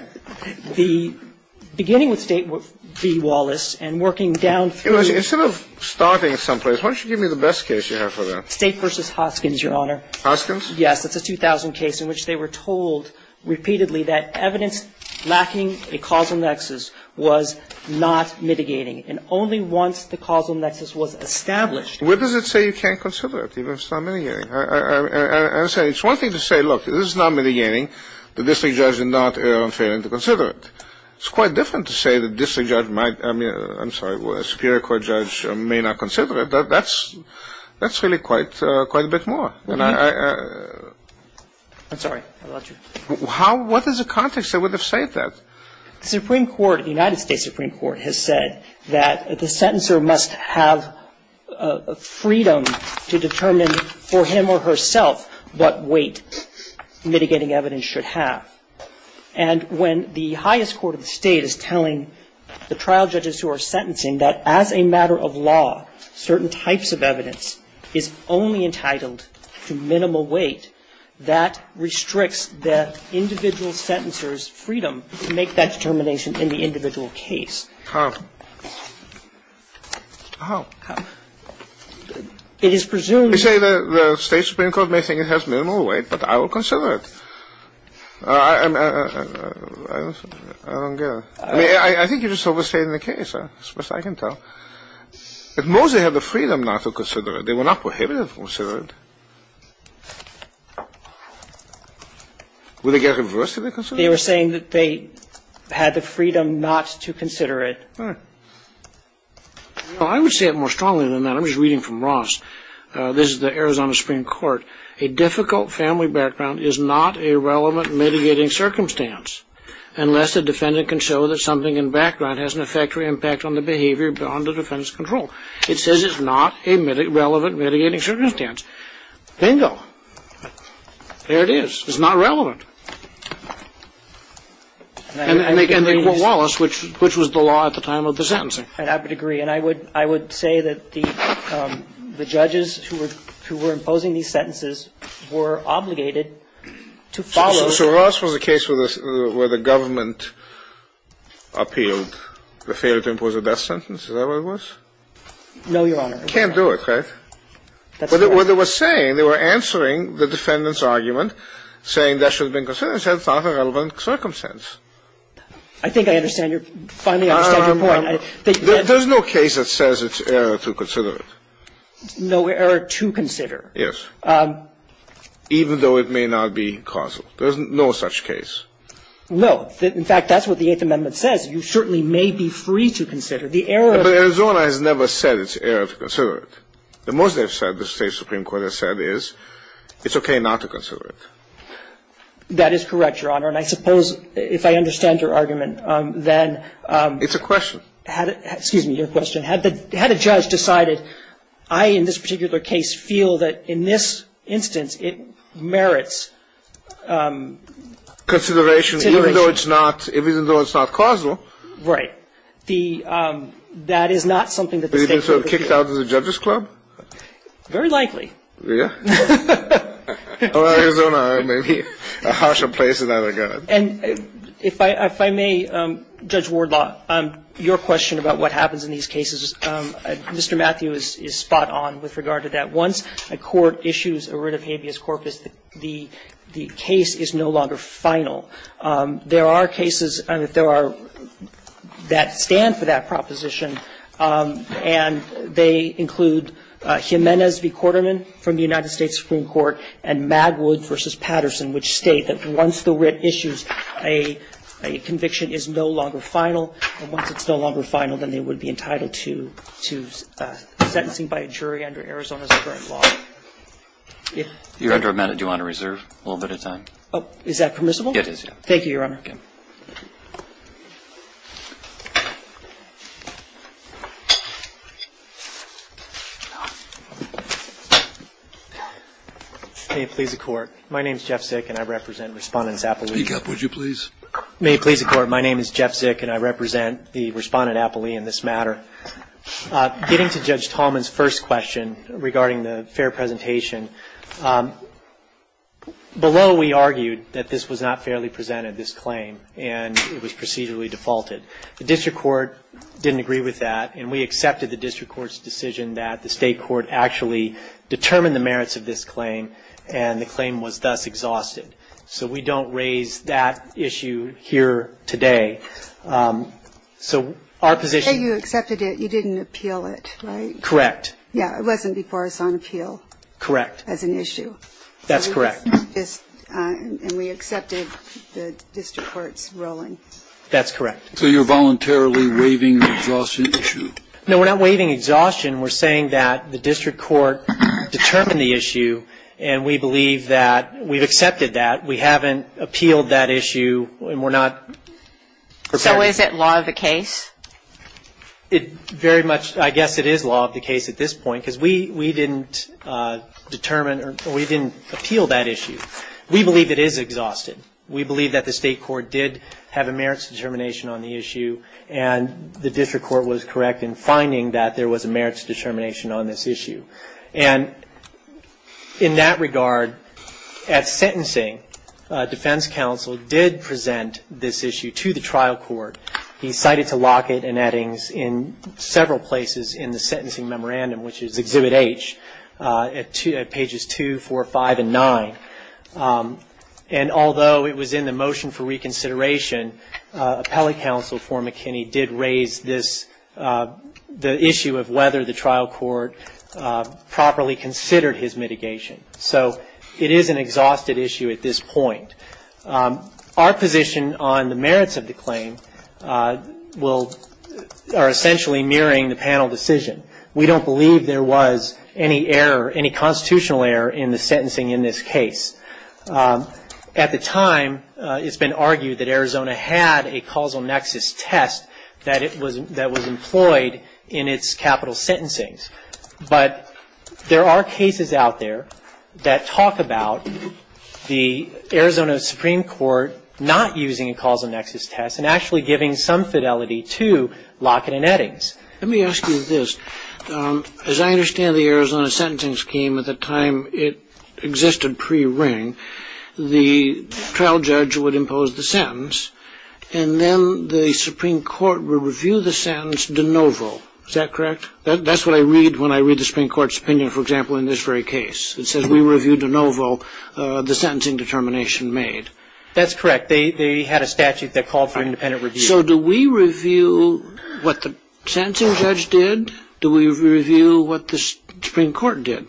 beginning with State v. Wallace and working down through... Instead of starting someplace, why don't you give me the best case you have for that? State v. Hoskins, Your Honor. Hoskins? Yes, it's a 2000 case in which they were told repeatedly that evidence lacking a causal nexus was not mitigating, and only once the causal nexus was established... Where does it say you can't consider it, even if it's not mitigating? It's one thing to say, look, if this is not mitigating, the district judge is not authoring to consider it. It's quite different to say the district judge might... I'm sorry, the Superior Court judge may not consider it, but that's really quite a bit more. I'm sorry. What is the context that would have said that? The United States Supreme Court has said that the sentencer must have freedom to determine for him or herself what weight mitigating evidence should have. And when the highest court of the state is telling the trial judges who are sentencing that as a matter of law, certain types of evidence is only entitled to minimal weight, that restricts the individual sentencer's freedom to make that determination in the individual case. How? How? How? It is presumed... You say the state Supreme Court may think it has minimal weight, but I will consider it. I don't get it. I think you just overstated the case, that's the best I can tell. If Mosley had the freedom not to consider it, they would not prohibit him from considering it. Would they get a reverse to the consideration? They were saying that they had the freedom not to consider it. Well, I would say it more strongly than that. I was reading from Ross. This is the Arizona Supreme Court. A difficult family background is not a relevant mitigating circumstance, unless a defendant can show that something in background has an effect or impact on the behavior beyond the defendant's control. It says it's not a relevant mitigating circumstance. Bingo. There it is. It's not relevant. And they were lawless, which was the law at the time of the sentencing. And I would agree. And I would say that the judges who were imposing these sentences were obligated to follow... So Ross was a case where the government appealed the failure to impose a death sentence? Is that what it was? No, Your Honor. Can't do it, right? But what they were saying, they were answering the defendant's argument, saying that should have been considered, and said it's not a relevant circumstance. I think I understand your point. There's no case that says it's error to consider it. No error to consider. Yes. Even though it may not be causal. There's no such case. No. In fact, that's what the Eighth Amendment says. You certainly may be free to consider. But Arizona has never said it's error to consider it. The most they've said, the state Supreme Court has said, is it's okay not to consider it. That is correct, Your Honor. And I suppose if I understand your argument, then... It's a question. Excuse me, it's a question. It's a question. Had a judge decided, I, in this particular case, feel that in this instance, it merits... Consideration, even though it's not causal. Right. That is not something that the case... Would you have been sort of kicked out of the judges club? Very likely. Yeah? All right, Your Honor. A harsher place than that, I guess. And if I may, Judge Wardlaw, your question about what happens in these cases, Mr. Matthews is spot on with regard to that. Once a court issues a writ of habeas corpus, the case is no longer final. There are cases that stand for that proposition, and they include Jimenez v. Quarterman from the United States Supreme Court and Magwood v. Patterson, which state that once the writ issues, a conviction is no longer final, and once it's no longer final, then they would be entitled to sentencing by a jury under Arizona Supreme Law. Yes? Your Honor, may I do you want to reserve a little bit of time? Oh, is that permissible? Yes, it is. Thank you, Your Honor. May it please the Court. My name is Jeff Sick, and I represent Respondent Appley. Speak up, would you please? May it please the Court. My name is Jeff Sick, and I represent the Respondent Appley in this matter. Getting to Judge Tallman's first question regarding the fair presentation, below we argued that this was not fairly presented, this claim, and it was procedurally defaulted. The district court didn't agree with that, and we accepted the district court's decision that the state court actually determined the merits of this claim, and the claim was thus exhausted. So we don't raise that issue here today. So our position... So you accepted it. You didn't appeal it, right? Correct. Yes, it wasn't before us on appeal. Correct. As an issue. That's correct. And we accepted the district court's ruling. That's correct. So you're voluntarily waiving the exhaustion issue? No, we're not waiving exhaustion. We're saying that the district court determined the issue, and we believe that we've accepted that. We haven't appealed that issue, and we're not... So is it law of the case? Very much, I guess it is law of the case at this point, because we didn't appeal that issue. We believe it is exhausted. We believe that the state court did have a merits determination on the issue, and the district court was correct in finding that there was a merits determination on this issue. And in that regard, at sentencing, defense counsel did present this issue to the trial court. He cited to Lockett and Eddings in several places in the sentencing memorandum, which is Exhibit H, at Pages 2, 4, 5, and 9. And although it was in the motion for reconsideration, appellate counsel for McKinney did raise this, the issue of whether the trial court properly considered his mitigation. So it is an exhausted issue at this point. Our position on the merits of the claim are essentially mirroring the panel decision. We don't believe there was any error, any constitutional error in the sentencing in this case. At the time, it's been argued that Arizona had a causal nexus test that was employed in its capital sentencing. But there are cases out there that talk about the Arizona Supreme Court not using a causal nexus test and actually giving some fidelity to Lockett and Eddings. Let me ask you this. As I understand the Arizona sentencing scheme at the time it existed pre-ring, the trial judge would impose the sentence, and then the Supreme Court would review the sentence de novo. Is that correct? That's what I read when I read the Supreme Court's opinion, for example, in this very case. It says we reviewed de novo the sentencing determination made. That's correct. They had a statute that called for independent review. So do we review what the sentencing judge did? Do we review what the Supreme Court did?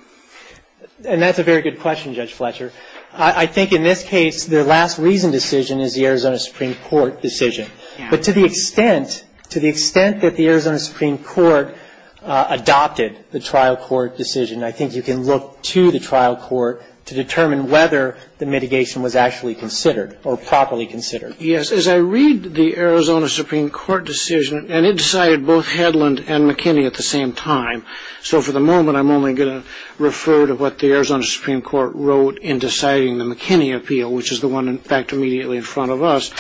And that's a very good question, Judge Fletcher. I think in this case, the last reason decision is the Arizona Supreme Court decision. But to the extent that the Arizona Supreme Court adopted the trial court decision, I think you can look to the trial court to determine whether the mitigation was actually considered or properly considered. Yes. As I read the Arizona Supreme Court decision, and it decided both Hedlund and McKinney at the same time, so for the moment I'm only going to refer to what the Arizona Supreme Court wrote in deciding the McKinney appeal, which is the one in fact immediately in front of us.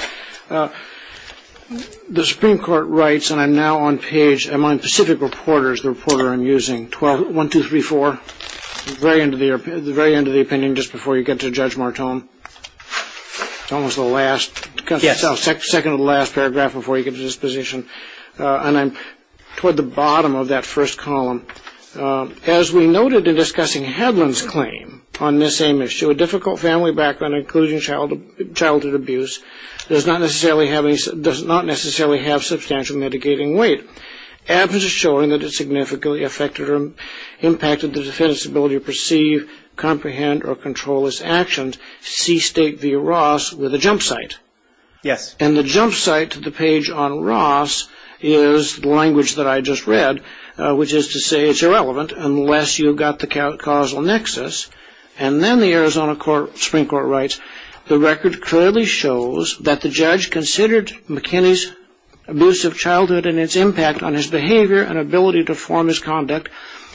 The Supreme Court writes, and I'm now on page among specific reporters, the reporter I'm using, 1234, the very end of the opinion just before you get to Judge Martone. It's almost the last, second to the last paragraph before you get to this position. And I'm toward the bottom of that first column. As we noted in discussing Hedlund's claim on this same issue, a difficult family background including childhood abuse does not necessarily have substantial mitigating weight. Advocates are showing that it significantly affected or impacted the defense's ability to perceive, comprehend, or control its actions. See state via Ross with a jump site. And the jump site to the page on Ross is the language that I just read, which is to say it's irrelevant unless you've got the causal nexus. And then the Arizona Supreme Court writes, the record clearly shows that the judge considered McKinney's abusive childhood and its impact on his behavior and ability to form his conduct,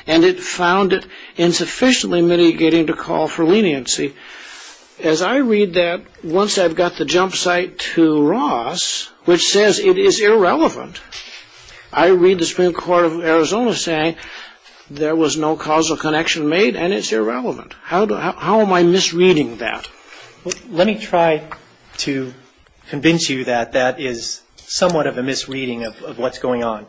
and it found it insufficiently mitigating the call for leniency. As I read that, once I've got the jump site to Ross, which says it is irrelevant, I read the Supreme Court of Arizona saying there was no causal connection made and it's irrelevant. How am I misreading that? Let me try to convince you that that is somewhat of a misreading of what's going on.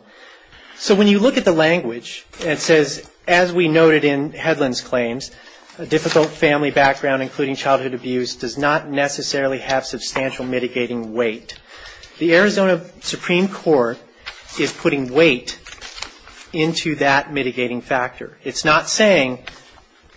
So when you look at the language, it says, as we noted in Hedlund's claims, a difficult family background, including childhood abuse, does not necessarily have substantial mitigating weight. The Arizona Supreme Court is putting weight into that mitigating factor. It's not saying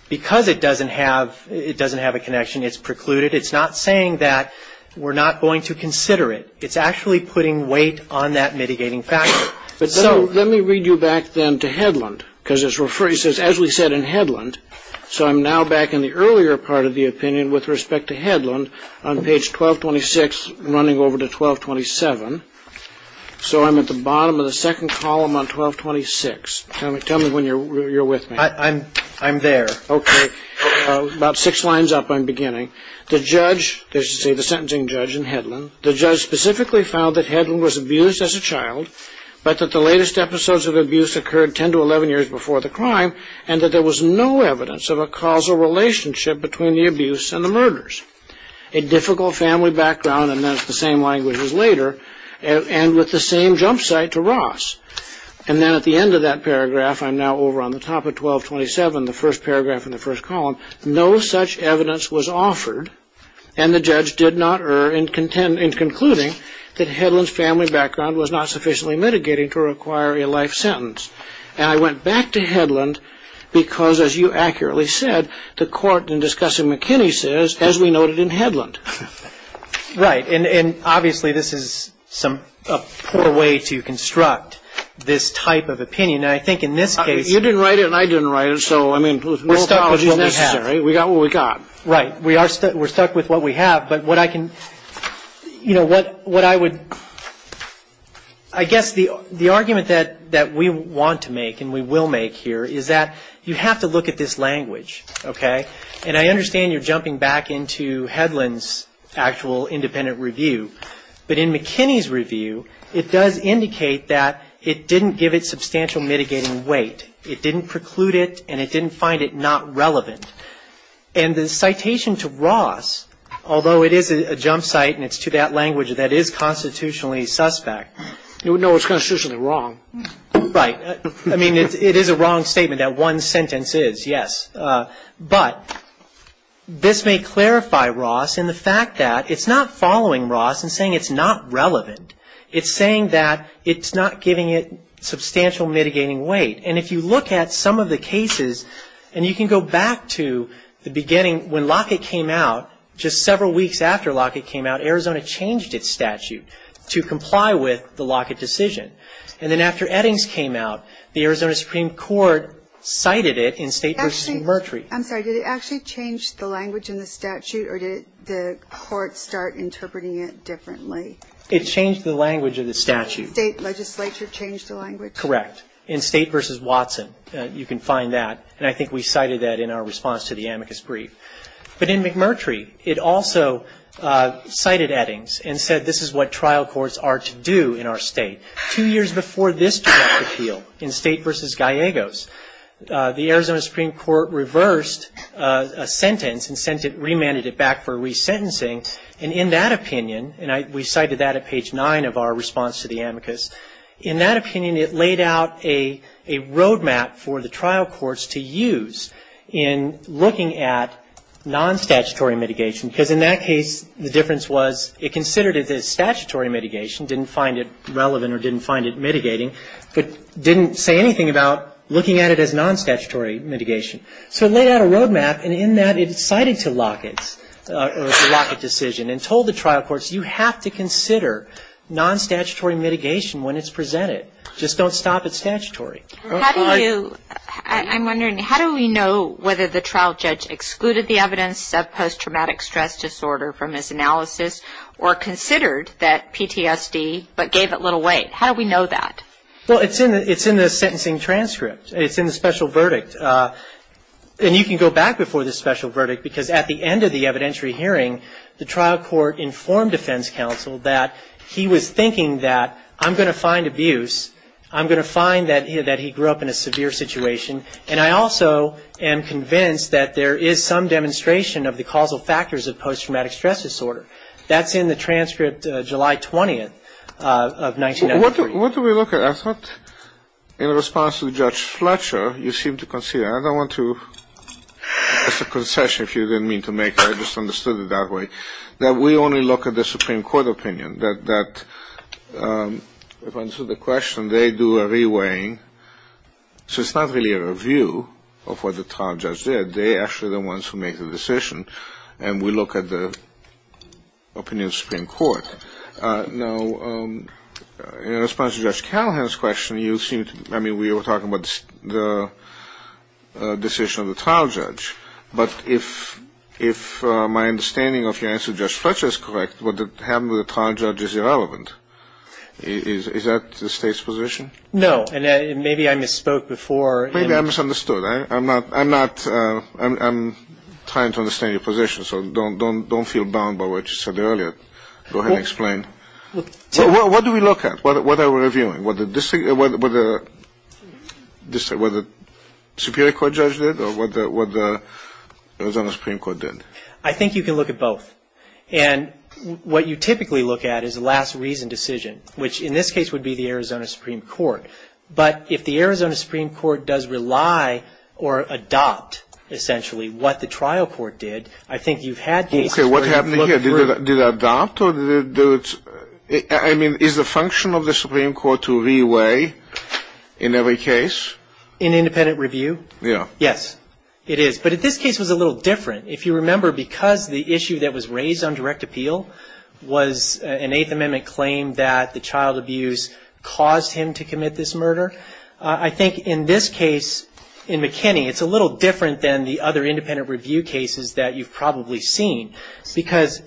because it doesn't have a connection, it's precluded. It's not saying that we're not going to consider it. It's actually putting weight on that mitigating factor. Let me read you back then to Hedlund, because as we said in Hedlund, so I'm now back in the earlier part of the opinion with respect to Hedlund, on page 1226, running over to 1227. So I'm at the bottom of the second column on 1226. Tell me when you're with me. I'm there. Okay. About six lines up, I'm beginning. The judge, the sentencing judge in Hedlund, the judge specifically found that Hedlund was abused as a child, but that the latest episodes of abuse occurred 10 to 11 years before the crime, and that there was no evidence of a causal relationship between the abuse and the murders. A difficult family background, and that's the same language as later, and with the same jump site to Ross. And then at the end of that paragraph, I'm now over on the top of 1227, the first paragraph in the first column, no such evidence was offered, and the judge did not err in concluding that Hedlund's family background was not sufficiently mitigating to require a life sentence. And I went back to Hedlund because, as you accurately said, the court in discussing McKinney says, as we noted in Hedlund. Right. And obviously this is a poor way to construct this type of opinion. And I think in this case. You didn't write it and I didn't write it, so, I mean, we're stuck with what we have. We got what we got. Right. We're stuck with what we have, but what I can, you know, what I would. I guess the argument that we want to make, and we will make here, is that you have to look at this language, okay? And I understand you're jumping back into Hedlund's actual independent review, but in McKinney's review, it does indicate that it didn't give it substantial mitigating weight. It didn't preclude it and it didn't find it not relevant. And the citation to Ross, although it is a jump site and it's to that language that is constitutionally suspect. No, it's constitutionally wrong. Right. I mean, it is a wrong statement that one sentence is, yes. But this may clarify Ross in the fact that it's not following Ross and saying it's not relevant. It's saying that it's not giving it substantial mitigating weight. And if you look at some of the cases, and you can go back to the beginning when Lockett came out, just several weeks after Lockett came out, Arizona changed its statute to comply with the Lockett decision. And then after Eddings came out, the Arizona Supreme Court cited it in State v. Mercury. I'm sorry, did it actually change the language in the statute or did the court start interpreting it differently? It changed the language of the statute. State legislature changed the language? Correct. In State v. Watson, you can find that. And I think we cited that in our response to the amicus brief. But in McMurtry, it also cited Eddings and said this is what trial courts are to do in our state. Two years before this trial appeal in State v. Gallegos, the Arizona Supreme Court reversed a sentence and sent it, remanded it back for resentencing. And in that opinion, and we cited that at page nine of our response to the amicus, in that opinion it laid out a road map for the trial courts to use in looking at non-statutory mitigation. Because in that case, the difference was it considered it as statutory mitigation, didn't find it relevant or didn't find it mitigating, but didn't say anything about looking at it as non-statutory mitigation. So it laid out a road map and in that it cited to Lockett the Lockett decision and told the trial courts you have to consider non-statutory mitigation when it's presented. Just don't stop at statutory. I'm wondering, how do we know whether the trial judge excluded the evidence of post-traumatic stress disorder from this analysis or considered that PTSD but gave it little weight? How do we know that? Well, it's in the sentencing transcript. It's in the special verdict. And you can go back before the special verdict because at the end of the evidentiary hearing, the trial court informed defense counsel that he was thinking that I'm going to find abuse, I'm going to find that he grew up in a severe situation, and I also am convinced that there is some demonstration of the causal factors of post-traumatic stress disorder. That's in the transcript July 20th of 1993. What do we look at? I thought in response to Judge Fletcher you seemed to consider, and I don't want to, just a concession if you didn't mean to make it, I just understood it that way, that we only look at the Supreme Court opinion, that if I answer the question, they do a re-weighing. So it's not really a review of what the trial judge did. They actually are the ones who make the decision, and we look at the opinion of the Supreme Court. Now, in response to Judge Callahan's question, we were talking about the decision of the trial judge, but if my understanding of your answer to Judge Fletcher is correct, what happened to the trial judge is irrelevant. Is that the state's position? No, and maybe I misspoke before. Maybe I misunderstood. I'm trying to understand your position, so don't feel bound by what you said earlier. Go ahead and explain. What do we look at? What are we reviewing? What the Superior Court judge did or what the Arizona Supreme Court did? I think you can look at both, and what you typically look at is a last reason decision, which in this case would be the Arizona Supreme Court. But if the Arizona Supreme Court does rely or adopt, essentially, what the trial court did, I think you had to look at both. Okay, what happened here? Did it adopt? I mean, is the function of the Supreme Court to re-weigh in every case? In independent review? Yeah. Yes, it is. But this case was a little different. If you remember, because the issue that was raised on direct appeal was an Eighth Amendment claim that the child abuse caused him to commit this murder. I think in this case, in McKinney, it's a little different than the other independent review cases that you've probably seen. Because,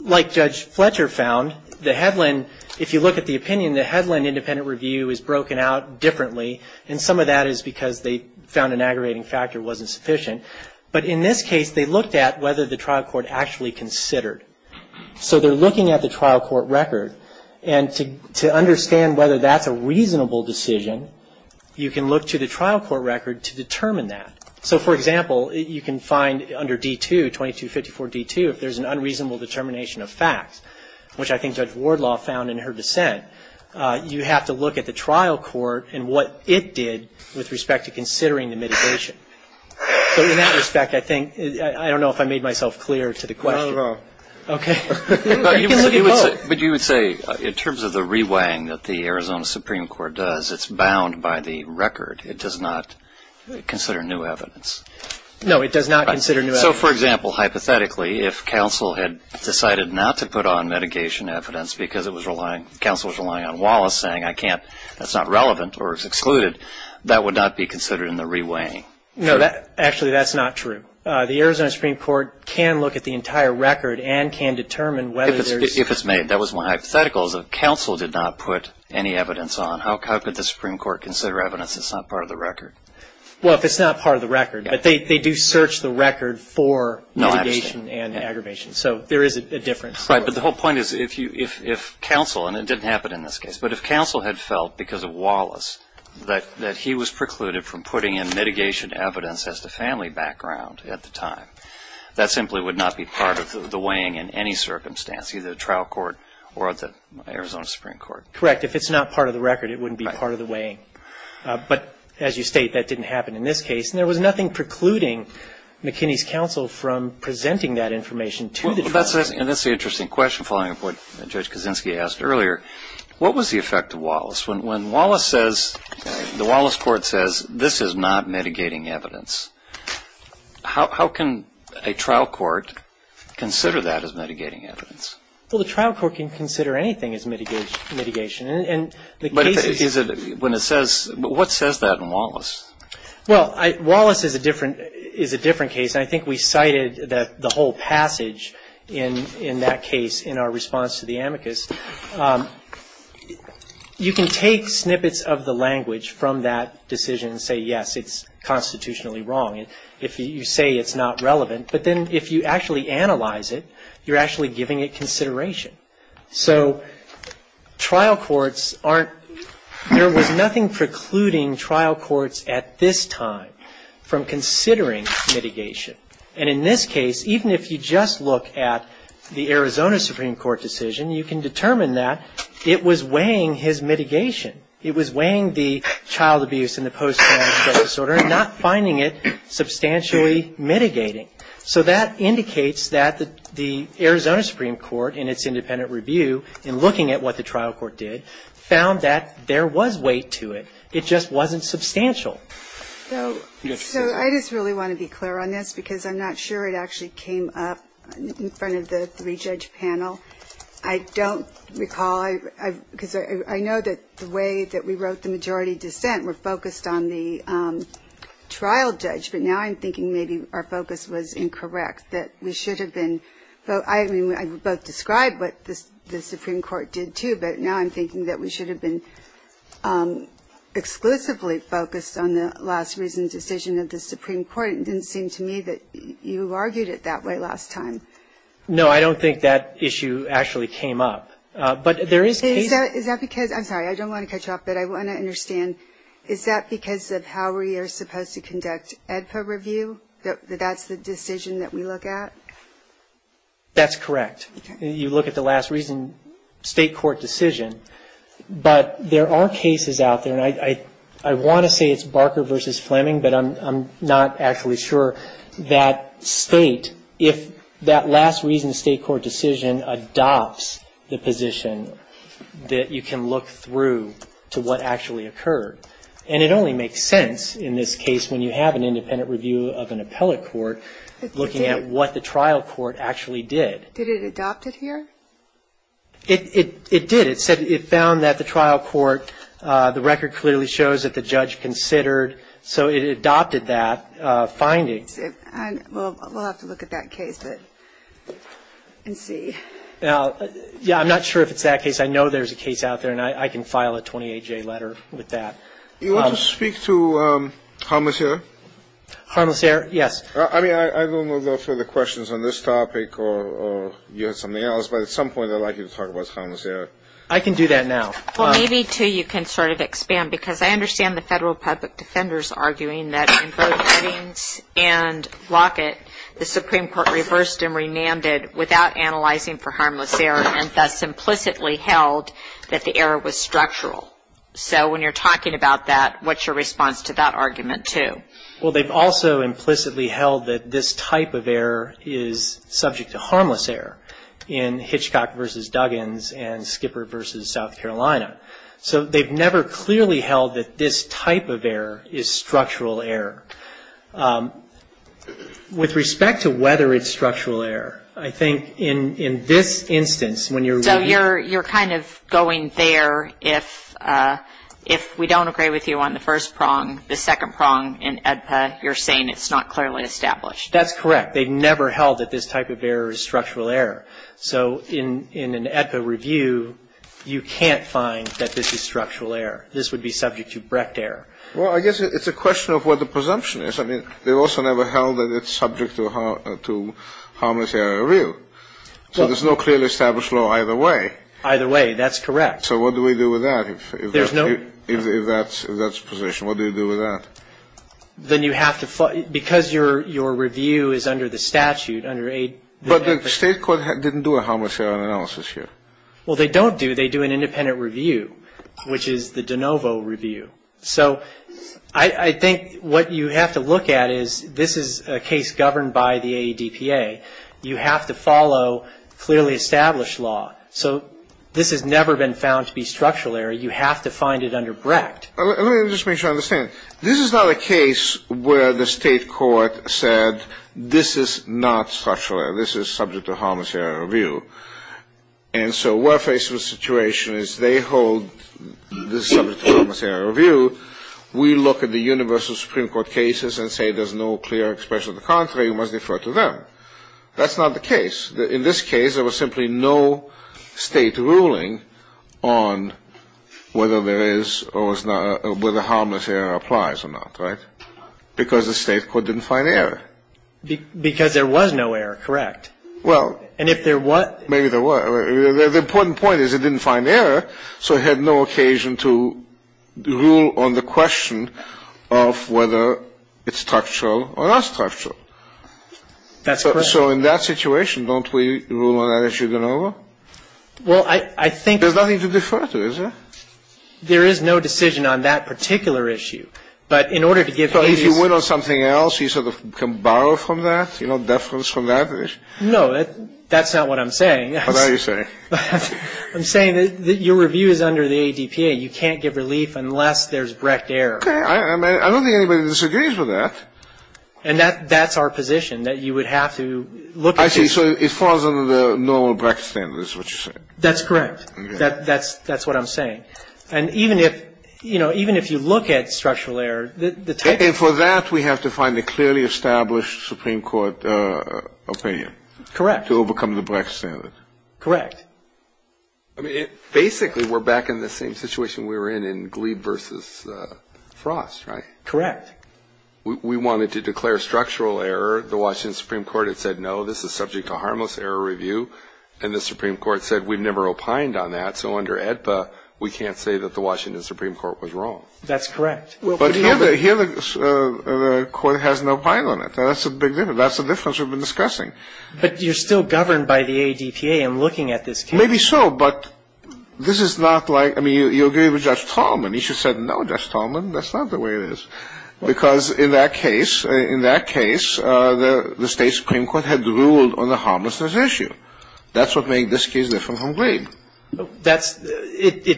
like Judge Fletcher found, the Hedlund, if you look at the opinion, the Hedlund independent review is broken out differently, and some of that is because they found an aggravating factor wasn't sufficient. But in this case, they looked at whether the trial court actually considered. So they're looking at the trial court record, and to understand whether that's a reasonable decision, you can look to the trial court record to determine that. So, for example, you can find under D2, 2254 D2, if there's an unreasonable determination of facts, which I think Judge Wardlaw found in her dissent, you have to look at the trial court and what it did with respect to considering the mitigation. But in that respect, I think, I don't know if I made myself clear to the question. No, no. Okay. But you would say, in terms of the reweighing that the Arizona Supreme Court does, it's bound by the record. It does not consider new evidence. No, it does not consider new evidence. So, for example, hypothetically, if counsel had decided not to put on mitigation evidence because it was relying, counsel was relying on Wallace saying, I can't, that's not relevant or it's excluded, that would not be considered in the reweighing. No, actually, that's not true. The Arizona Supreme Court can look at the entire record and can determine whether there's... If it's made. That was one hypothetical. If counsel did not put any evidence on, how could the Supreme Court consider evidence that's not part of the record? Well, if it's not part of the record. But they do search the record for mitigation and aggravation. So, there is a difference. Right. But the whole point is, if counsel, and it didn't happen in this case, but if counsel had felt, because of Wallace, that he was precluded from putting in mitigation evidence as the family background at the time, that simply would not be part of the weighing in any circumstance, either the trial court or the Arizona Supreme Court. Correct. If it's not part of the record, it wouldn't be part of the weighing. But, as you state, that didn't happen in this case. There was nothing precluding McKinney's counsel from presenting that information to the family. And that's the interesting question, following up what Judge Kaczynski asked earlier. What was the effect of Wallace? When Wallace says, the Wallace court says, this is not mitigating evidence, how can a trial court consider that as mitigating evidence? Well, the trial court can consider anything as mitigation. But what says that in Wallace? Well, Wallace is a different case. I think we cited the whole passage in that case in our response to the amicus. You can take snippets of the language from that decision and say, yes, it's constitutionally wrong. If you say it's not relevant, but then if you actually analyze it, you're actually giving it consideration. So, trial courts aren't, there was nothing precluding trial courts at this time from considering mitigation. And in this case, even if you just look at the Arizona Supreme Court decision, you can determine that it was weighing his mitigation. It was weighing the child abuse and the post-traumatic stress disorder and not finding it substantially mitigating. So, that indicates that the Arizona Supreme Court, in its independent review, in looking at what the trial court did, found that there was weight to it. It just wasn't substantial. So, I just really want to be clear on this because I'm not sure it actually came up in front of the three-judge panel. I don't recall, because I know that the way that we wrote the majority dissent, we're focused on the trial judge. But now I'm thinking maybe our focus was incorrect, that we should have been. So, I mean, I both described what the Supreme Court did, too. But now I'm thinking that we should have been exclusively focused on the last-reason decision of the Supreme Court. It didn't seem to me that you argued it that way last time. No, I don't think that issue actually came up. Is that because – I'm sorry, I don't want to cut you off, but I want to understand. Is that because of how we are supposed to conduct ADFA review, that that's the decision that we look at? That's correct. You look at the last-reason state court decision. But there are cases out there, and I want to say it's Barker v. Fleming, but I'm not actually sure. That state, if that last-reason state court decision adopts the position that you can look through to what actually occurred. And it only makes sense in this case when you have an independent review of an appellate court looking at what the trial court actually did. Did it adopt it here? It did. It found that the trial court, the record clearly shows that the judge considered, so it adopted that finding. We'll have to look at that case and see. Yeah, I'm not sure if it's that case. I know there's a case out there, and I can file a 28-J letter with that. Do you want to speak to Harmless Air? Harmless Air, yes. I mean, I don't know about further questions on this topic or something else, but at some point I'd like you to talk about Harmless Air. I can do that now. Well, maybe, too, you can sort of expand, because I understand the Federal Public Defender's arguing that in both settings and Lockett, the Supreme Court reversed and remanded without analyzing for Harmless Air, and thus implicitly held that the error was structural. So when you're talking about that, what's your response to that argument, too? Well, they've also implicitly held that this type of error is subject to Harmless Air in Hitchcock v. Duggins and Skipper v. South Carolina. So they've never clearly held that this type of error is structural error. With respect to whether it's structural error, I think in this instance, when you're reviewing- So you're kind of going there if we don't agree with you on the first prong. The second prong in AEDPA, you're saying it's not clearly established. That's correct. They've never held that this type of error is structural error. So in an AEDPA review, you can't find that this is structural error. This would be subject to brecht error. Well, I guess it's a question of what the presumption is. I mean, they've also never held that it's subject to Harmless Air review. So there's no clearly established law either way. Either way. That's correct. So what do we do with that? There's no- If that's the position, what do you do with that? Then you have to- Because your review is under the statute- But the state court didn't do a Harmless Air analysis here. Well, they don't do. They do an independent review, which is the de novo review. So I think what you have to look at is this is a case governed by the AEDPA. You have to follow clearly established law. So this has never been found to be structural error. You have to find it under brecht. Let me just make sure I understand. This is not a case where the state court said this is not structural error. This is subject to Harmless Air review. And so we're faced with a situation as they hold this is subject to Harmless Air review. We look at the universal Supreme Court cases and say there's no clear expression of the contrary. It must refer to them. That's not the case. In this case, there was simply no state ruling on whether there is or whether Harmless Air applies or not, right? Because the state court didn't find error. Because there was no error, correct. Well- And if there was- Maybe there was. The important point is it didn't find error, so it had no occasion to rule on the question of whether it's structural or not structural. That's correct. So in that situation, don't we rule on that if you don't know? Well, I think- There's nothing to be trusted, is there? There is no decision on that particular issue. But in order to give- So if you win on something else, you sort of can borrow from that, you know, deference from that issue? No, that's not what I'm saying. What are you saying? I'm saying that your review is under the ADPA. You can't give relief unless there's Brecht error. I don't think anybody disagrees with that. And that's our position, that you would have to look at- Actually, so it falls under the normal Brecht standard, is what you're saying? That's correct. That's what I'm saying. And even if you look at structural error, the type- And for that, we have to find a clearly established Supreme Court opinion. Correct. To overcome the Brecht standard. Correct. I mean, basically, we're back in the same situation we were in, in Glee versus Frost, right? Correct. We wanted to declare structural error. The Washington Supreme Court had said, no, this is subject to harmless error review. And the Supreme Court said, we've never opined on that. So under ADPA, we can't say that the Washington Supreme Court was wrong. That's correct. But here, the court has no opinion on it. That's a big difference. That's the difference we've been discussing. But you're still governed by the ADPA in looking at this case. Maybe so, but this is not like- I mean, you agree with Judge Talman. He should have said, no, Judge Talman, that's not the way it is. Because in that case, the state Supreme Court had ruled on the harmlessness issue. It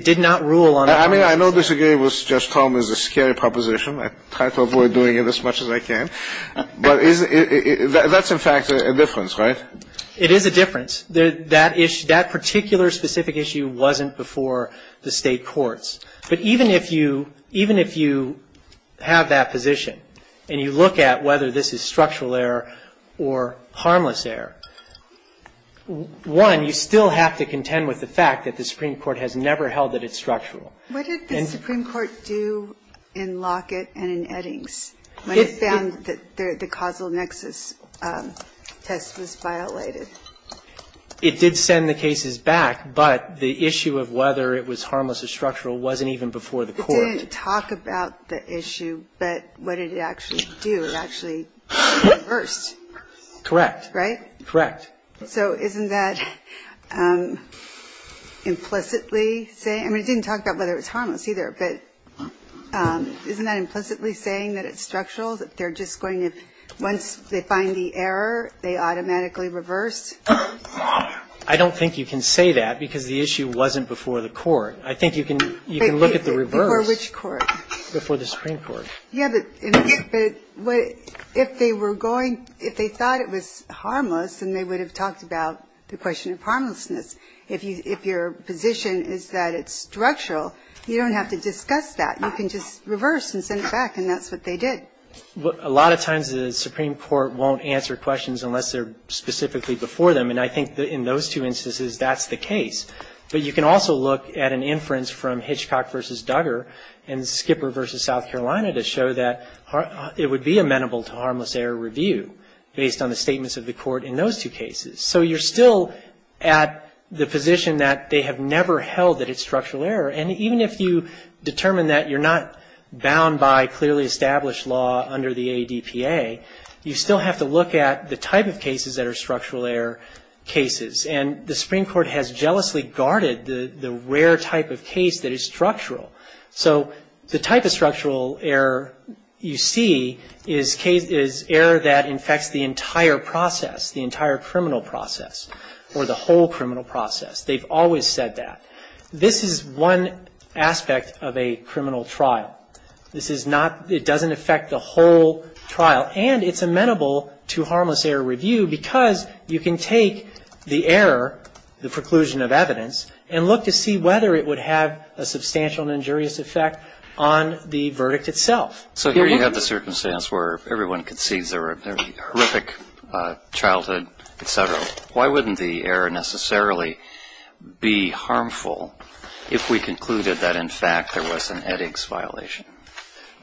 did not rule on- I mean, I know disagreeing with Judge Talman is a scary proposition. I thought we were doing it as much as I can. But that's, in fact, a difference, right? It is a difference. That particular specific issue wasn't before the state courts. But even if you have that position and you look at whether this is structural error or harmless error, one, you still have to contend with the fact that the Supreme Court has never held that it's structural. What did the Supreme Court do in Lockett and in Eddings when it found that the causal nexus test was violated? It did send the cases back, but the issue of whether it was harmless or structural wasn't even before the courts. It didn't talk about the issue, but what did it actually do? It actually reversed. Correct. It reversed, right? Correct. So isn't that implicitly saying- I mean, it didn't talk about whether it was harmless either, but isn't that implicitly saying that it's structural, that they're just going to- once they find the error, they automatically reverse? I don't think you can say that because the issue wasn't before the court. I think you can look at the reverse. Before which court? Before the Supreme Court. Yeah, but if they were going- if they thought it was harmless, then they would have talked about the question of harmlessness. If your position is that it's structural, you don't have to discuss that. You can just reverse and send it back, and that's what they did. A lot of times the Supreme Court won't answer questions unless they're specifically before them, and I think in those two instances, that's the case. But you can also look at an inference from Hitchcock v. Duggar and Skipper v. South Carolina to show that it would be amenable to harmless error review based on the statements of the court in those two cases. So you're still at the position that they have never held that it's structural error, and even if you determine that you're not bound by clearly established law under the ADPA, you still have to look at the type of cases that are structural error cases, and the Supreme Court has jealously guarded the rare type of case that is structural. So the type of structural error you see is error that infects the entire process, the entire criminal process, or the whole criminal process. They've always said that. This is one aspect of a criminal trial. This is not- it doesn't affect the whole trial, and it's amenable to harmless error review because you can take the error, the preclusion of evidence, and look to see whether it would have a substantial and injurious effect on the verdict itself. So here you have the circumstance where everyone concedes there was a horrific childhood, et cetera. Why wouldn't the error necessarily be harmful if we concluded that in fact there was an headaches violation?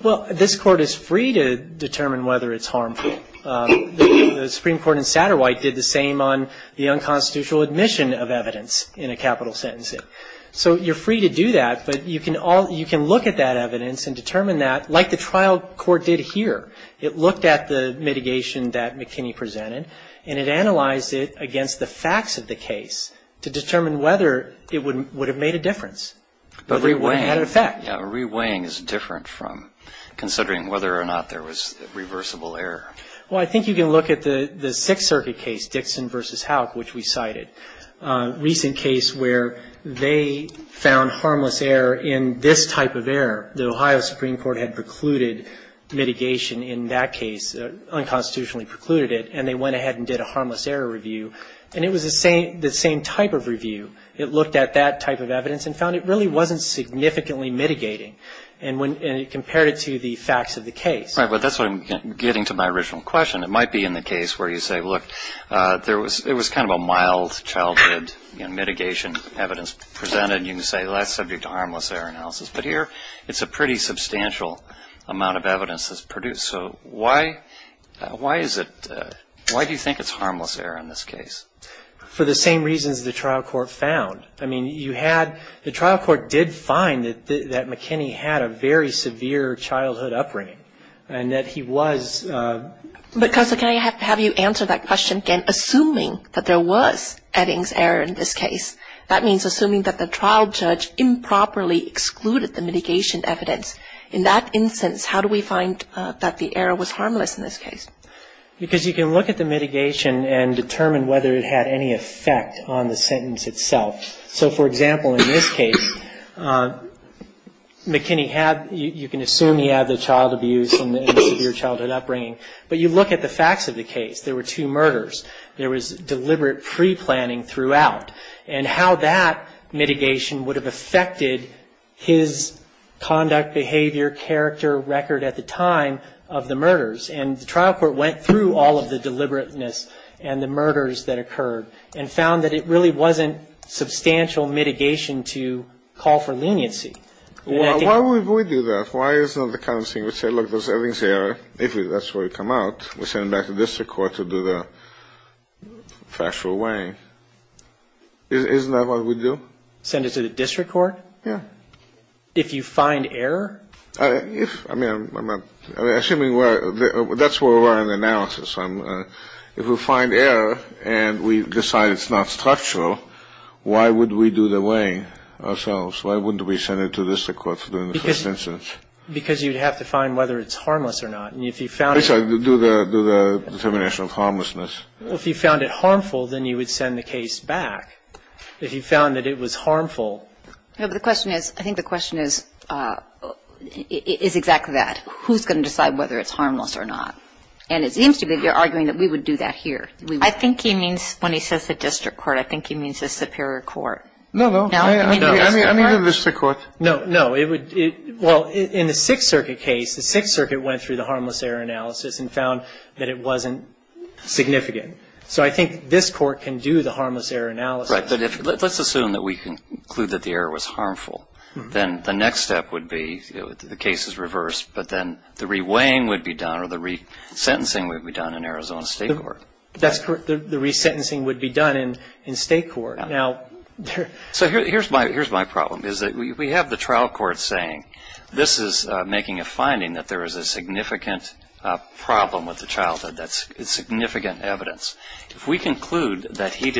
Well, this court is free to determine whether it's harmful. The Supreme Court in Satterwhite did the same on the unconstitutional admission of evidence in a capital sentencing. So you're free to do that, but you can look at that evidence and determine that, like the trial court did here. It looked at the mitigation that McKinney presented, and it analyzed it against the facts of the case to determine whether it would have made a difference. But reweighing had an effect. Yeah, reweighing is different from considering whether or not there was reversible error. Well, I think you can look at the Sixth Circuit case, Dixon v. Houck, which we cited, a recent case where they found harmless error in this type of error. The Ohio Supreme Court had precluded mitigation in that case, unconstitutionally precluded it, and they went ahead and did a harmless error review, and it was the same type of review. It looked at that type of evidence and found it really wasn't significantly mitigating, and it compared it to the facts of the case. Right, but that's what I'm getting to my original question. It might be in the case where you say, look, there was kind of a mild childhood mitigation evidence presented, and you can say less subject to harmless error analysis. But here, it's a pretty substantial amount of evidence that's produced. So why do you think it's harmless error in this case? For the same reasons the trial court found. I mean, the trial court did find that McKinney had a very severe childhood upbringing, and that he was... But, Counselor, can I have you answer that question again? Assuming that there was Eddings error in this case, that means assuming that the trial judge improperly excluded the mitigation evidence. In that instance, how do we find that the error was harmless in this case? Because you can look at the mitigation and determine whether it had any effect on the sentence itself. So, for example, in this case, McKinney had... You can assume he had the child abuse and the severe childhood upbringing, but you look at the facts of the case. There were two murders. There was deliberate pre-planning throughout, and how that mitigation would have affected his conduct, behavior, character, record at the time of the murders. And the trial court went through all of the deliberateness and the murders that occurred and found that it really wasn't substantial mitigation to call for leniency. Why would we do that? Why isn't it the kind of thing to say, look, there's Eddings error. If that's where it comes out, we send it back to district court to do the factual weighing. Isn't that what we do? Send it to the district court? Yeah. If you find error? I mean, I'm assuming that's where we're on the analysis. If we find error and we decide it's not structural, why would we do the weighing ourselves? Why wouldn't we send it to the district court to do the first instance? Because you'd have to find whether it's harmless or not, and if you found it... That's right. Do the determination of harmlessness. If you found it harmful, then you would send the case back. If you found that it was harmful... No, but the question is, I think the question is exactly that. Who's going to decide whether it's harmless or not? And it seems to me they're arguing that we would do that here. I think he means when he says the district court, I think he means the superior court. No, no. I mean the district court. No, no. Well, in the Sixth Circuit case, the Sixth Circuit went through the harmless error analysis and found that it wasn't significant. So I think this court can do the harmless error analysis. That's right, but let's assume that we conclude that the error was harmful. Then the next step would be the case is reversed, but then the re-weighing would be done or the resentencing would be done in Arizona State Court. That's correct. The resentencing would be done in State Court. So here's my problem, is that we have the trial court saying this is making a finding that there is a significant problem with the childhood, significant evidence. If we conclude that he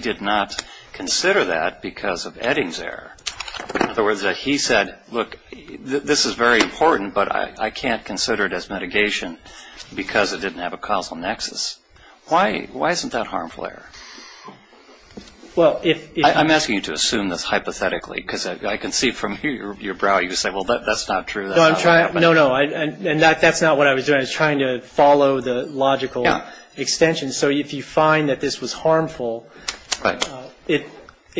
did not consider that because of Edding's error, or that he said, look, this is very important, but I can't consider it as mitigation because it didn't have a causal nexus. Why isn't that harmful error? I'm asking you to assume this hypothetically, because I can see from your brow you said, well, that's not true. No, no, and that's not what I was doing. I was trying to follow the logical extension. So if you find that this was harmful, it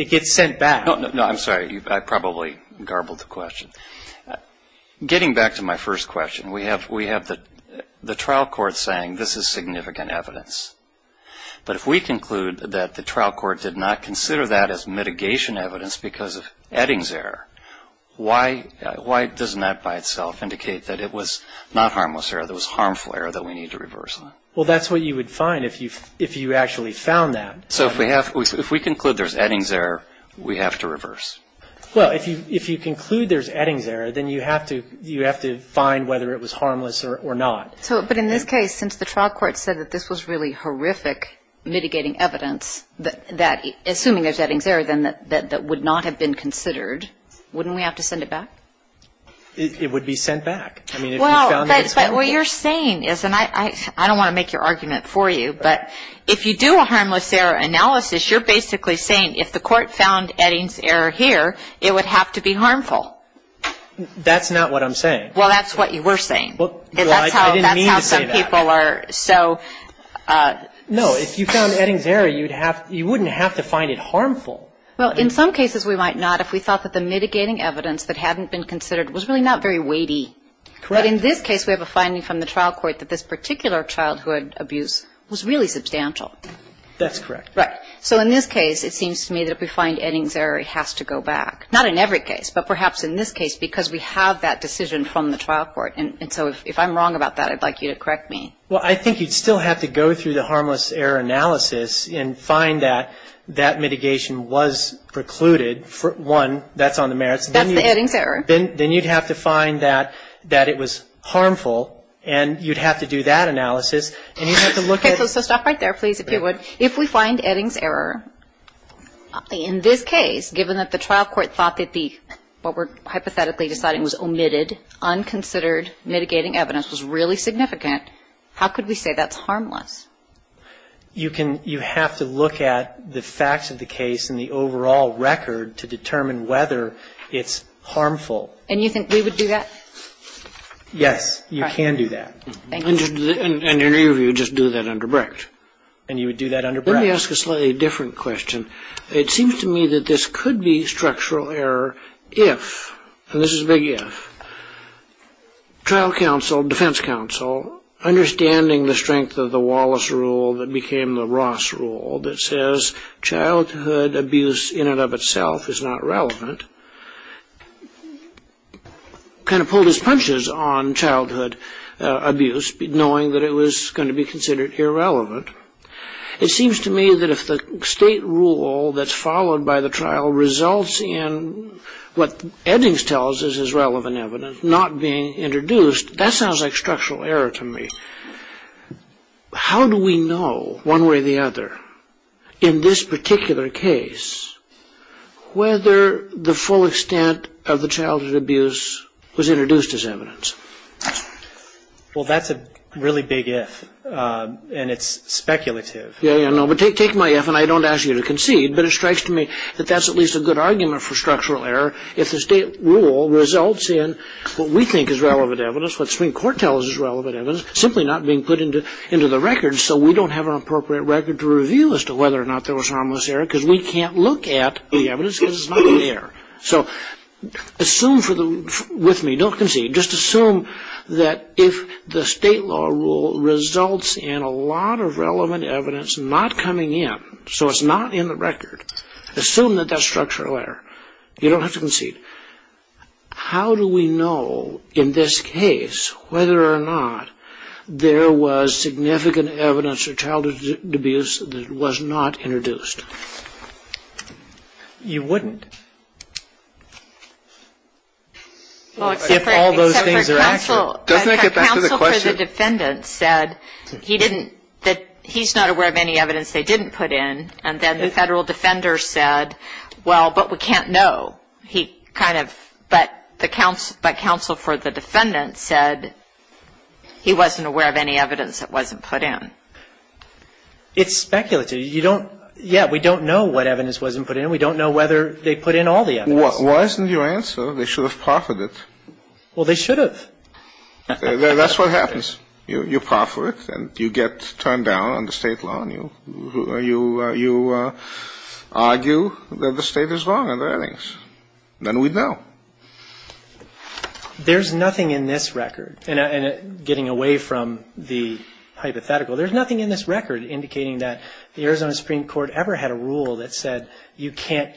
gets sent back. No, I'm sorry. I probably garbled the question. Getting back to my first question, we have the trial court saying this is significant evidence, but if we conclude that the trial court did not consider that as mitigation evidence because of Edding's error, why doesn't that by itself indicate that it was not harmless error, that it was harmful error that we need to reverse on? Well, that's what you would find if you actually found that. So if we conclude there's Edding's error, we have to reverse? Well, if you conclude there's Edding's error, then you have to find whether it was harmless or not. But in this case, since the trial court said that this was really horrific mitigating evidence, assuming there's Edding's error, then that would not have been considered, wouldn't we have to send it back? It would be sent back. Well, but what you're saying is, and I don't want to make your argument for you, but if you do a harmless error analysis, you're basically saying if the court found Edding's error here, it would have to be harmful. That's not what I'm saying. Well, that's what you were saying. I didn't mean to say that. No, if you found Edding's error, you wouldn't have to find it harmful. Well, in some cases we might not. We thought that the mitigating evidence that hadn't been considered was really not very weighty. But in this case, we have a finding from the trial court that this particular childhood abuse was really substantial. That's correct. Right. So in this case, it seems to me that if we find Edding's error, it has to go back. Not in every case, but perhaps in this case, because we have that decision from the trial court. And so if I'm wrong about that, I'd like you to correct me. Well, I think you'd still have to go through the harmless error analysis and find that that mitigation was precluded. One, that's on the merits. That's the Edding's error. Then you'd have to find that it was harmful, and you'd have to do that analysis. Okay, so stop right there, please, if you would. If we find Edding's error in this case, given that the trial court thought that what we're hypothetically deciding was omitted, unconsidered, mitigating evidence was really significant, how could we say that's harmless? You have to look at the facts of the case and the overall record to determine whether it's harmful. And we would do that? Yes, you can do that. And any of you would just do that under BRICS. And you would do that under BRICS. Let me ask a slightly different question. It seems to me that this could be structural error if, and this is a big if, trial counsel, defense counsel, understanding the strength of the Wallace rule that became the Ross rule that says childhood abuse in and of itself is not relevant, kind of pulled his punches on childhood abuse, knowing that it was going to be considered irrelevant. It seems to me that if the state rule that's followed by the trial results in what Edding's tells us is relevant evidence not being introduced, that sounds like structural error to me. How do we know, one way or the other, in this particular case, whether the full extent of the childhood abuse was introduced as evidence? Well, that's a really big if, and it's speculative. Yes, but take my if and I don't ask you to concede, but it strikes to me that that's at least a good argument for structural error if the state rule results in what we think is relevant evidence, what the Supreme Court tells us is relevant evidence, simply not being put into the record so we don't have an appropriate record to reveal as to whether or not there was harmless error because we can't look at the evidence because it's not there. Assume with me, don't concede, just assume that if the state law rule results in a lot of relevant evidence not coming in, so it's not in the record, assume that that's structural error. You don't have to concede. How do we know in this case whether or not there was significant evidence of childhood abuse that was not introduced? You wouldn't if all those things are out there. Doesn't that get back to the question? The counsel for the defendant said that he's not aware of any evidence they didn't put in, and then the federal defender said, well, but we can't know. He kind of, but counsel for the defendant said he wasn't aware of any evidence that wasn't put in. It's speculative. Yeah, we don't know what evidence wasn't put in. We don't know whether they put in all the evidence. Why isn't your answer they should have proffered it? Well, they should have. That's what happens. You proffer it, and you get turned down on the state law, and you argue that the state is wrong on the earnings. Then we know. There's nothing in this record, and getting away from the hypothetical, there's nothing in this record indicating that the Arizona Supreme Court ever had a rule that said you can't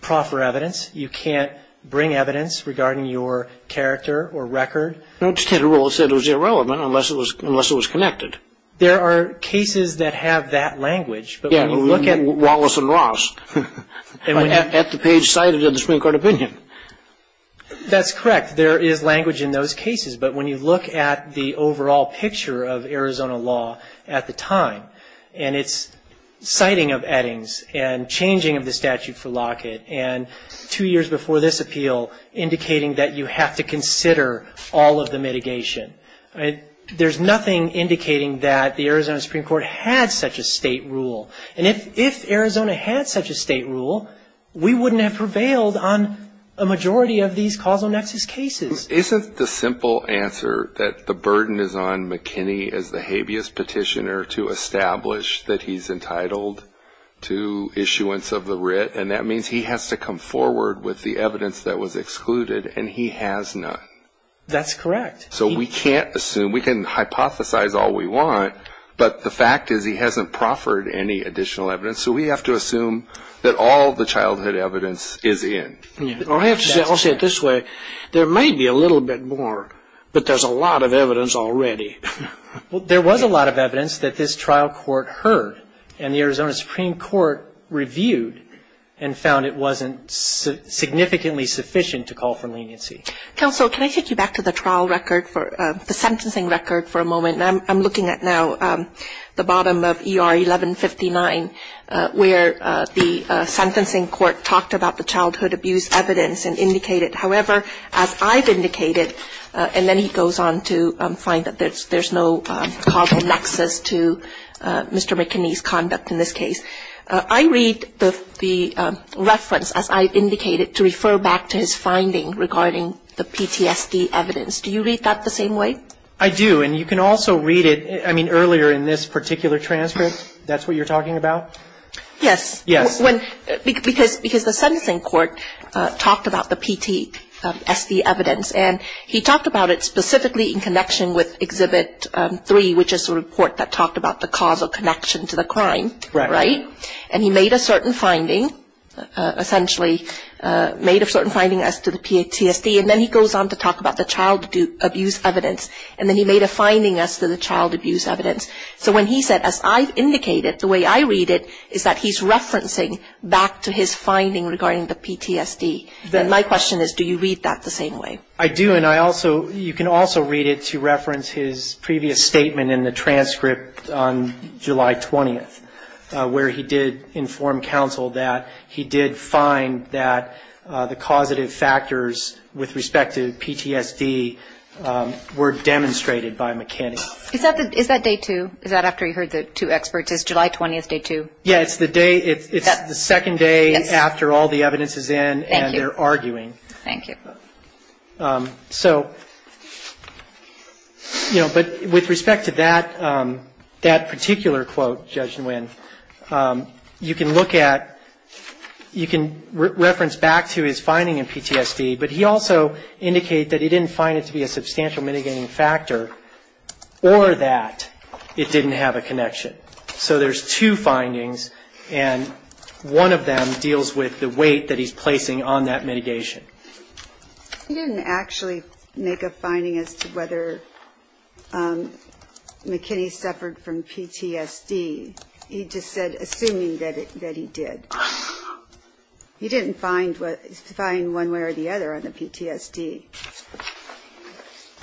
proffer evidence, you can't bring evidence regarding your character or record. No, it just had a rule that said it was irrelevant unless it was connected. There are cases that have that language. Yeah, Wallace and Ross. At the page cited in the Supreme Court opinion. That's correct. In fact, there is language in those cases. But when you look at the overall picture of Arizona law at the time, and its citing of Eddings and changing of the statute for Lockett, and two years before this appeal indicating that you have to consider all of the mitigation, there's nothing indicating that the Arizona Supreme Court had such a state rule. And if Arizona had such a state rule, we wouldn't have prevailed on a majority of these causal nexus cases. Isn't the simple answer that the burden is on McKinney as the habeas petitioner to establish that he's entitled to issuance of the writ, and that means he has to come forward with the evidence that was excluded, and he has none? That's correct. So we can't assume. We can hypothesize all we want, but the fact is he hasn't proffered any additional evidence. So we have to assume that all the childhood evidence is in. I'll say it this way. There may be a little bit more, but there's a lot of evidence already. There was a lot of evidence that this trial court heard, and the Arizona Supreme Court reviewed and found it wasn't significantly sufficient to call for leniency. Counsel, can I take you back to the trial record for the sentencing record for a moment? I'm looking at now the bottom of ER 1159, where the sentencing court talked about the childhood abuse evidence and indicated, however, as I've indicated, and then he goes on to find that there's no causal nexus to Mr. McKinney's conduct in this case. I read the reference, as I've indicated, to refer back to his finding regarding the PTSD evidence. Do you read that the same way? I do, and you can also read it, I mean, earlier in this particular transcript, that's what you're talking about? Yes. Yes. Because the sentencing court talked about the PTSD evidence, and he talked about it specifically in connection with Exhibit 3, which is the report that talked about the causal connection to the crime, right? And he made a certain finding, essentially, made a certain finding as to the PTSD, and then he goes on to talk about the child abuse evidence, and then he made a finding as to the child abuse evidence. So when he said, as I've indicated, the way I read it is that he's referencing back to his finding regarding the PTSD. Then my question is, do you read that the same way? I do, and you can also read it to reference his previous statement in the transcript on July 20th, where he did inform counsel that he did find that the causative factors with respect to PTSD were demonstrated by McKinney. Is that day two? Is that after he heard the two experts? Is July 20th day two? Yes, it's the second day after all the evidence is in and they're arguing. Thank you. But with respect to that particular quote, Judge Nguyen, you can look at, you can reference back to his finding in PTSD, but he also indicated that he didn't find it to be a substantial mitigating factor or that it didn't have a connection. So there's two findings, and one of them deals with the weight that he's placing on that mitigation. He didn't actually make a finding as to whether McKinney suffered from PTSD. He just said, assuming that he did. He didn't find one way or the other on the PTSD.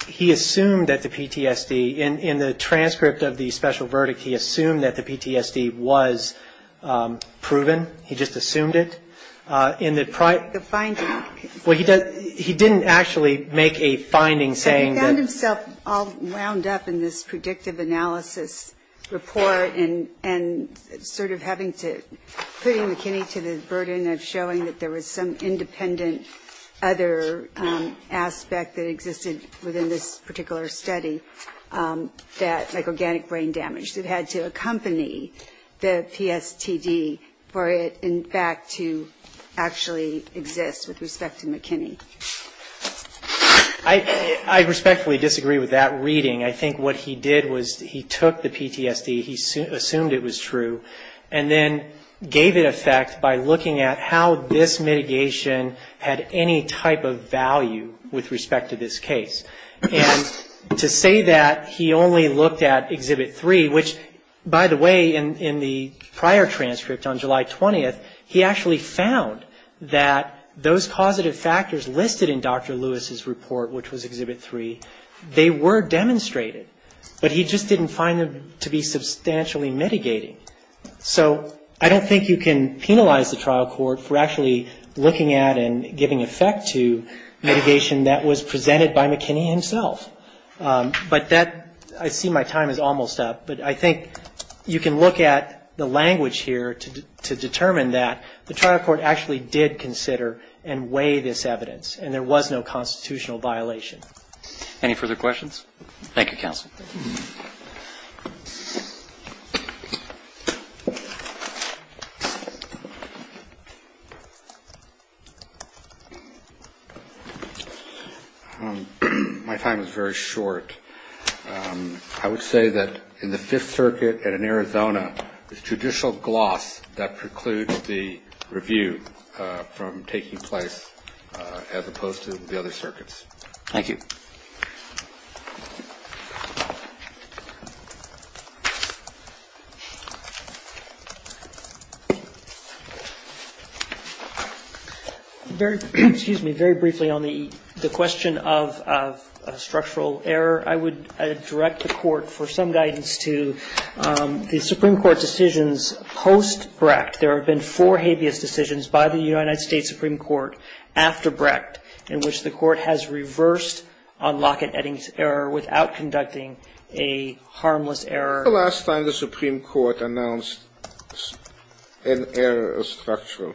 He assumed that the PTSD, in the transcript of the special verdict, he assumed that the PTSD was proven. He just assumed it. He didn't actually make a finding saying that. He found himself all wound up in this predictive analysis report and sort of putting McKinney to the burden of showing that there was some independent other aspect that existed within this particular study, like organic brain damage that had to accompany the PTSD for it, in fact, to actually exist with respect to McKinney. I respectfully disagree with that reading. I think what he did was he took the PTSD, he assumed it was true, and then gave it a fact by looking at how this mitigation had any type of value with respect to this case. And to say that he only looked at Exhibit 3, which, by the way, in the prior transcript on July 20th, he actually found that those positive factors listed in Dr. Lewis's report, which was Exhibit 3, they were demonstrated, but he just didn't find them to be substantially mitigating. So, I don't think you can penalize the trial court for actually looking at and giving effect to mitigation that was presented by McKinney himself. But that, I see my time is almost up, but I think you can look at the language here to determine that the trial court actually did consider and weigh this evidence, and there was no constitutional violation. Any further questions? My time is very short. I would say that in the Fifth Circuit and in Arizona, the judicial gloss that precludes the review from taking place as opposed to the other circuits. Thank you. Very briefly on the question of structural error, I would direct the court for some guidance to the Supreme Court decisions post-Brecht. There have been four habeas decisions by the United States Supreme Court after Brecht, in which the court has reversed on Lockett-Eddings error without conducting a harmless error. When was the last time the Supreme Court announced an error of structural?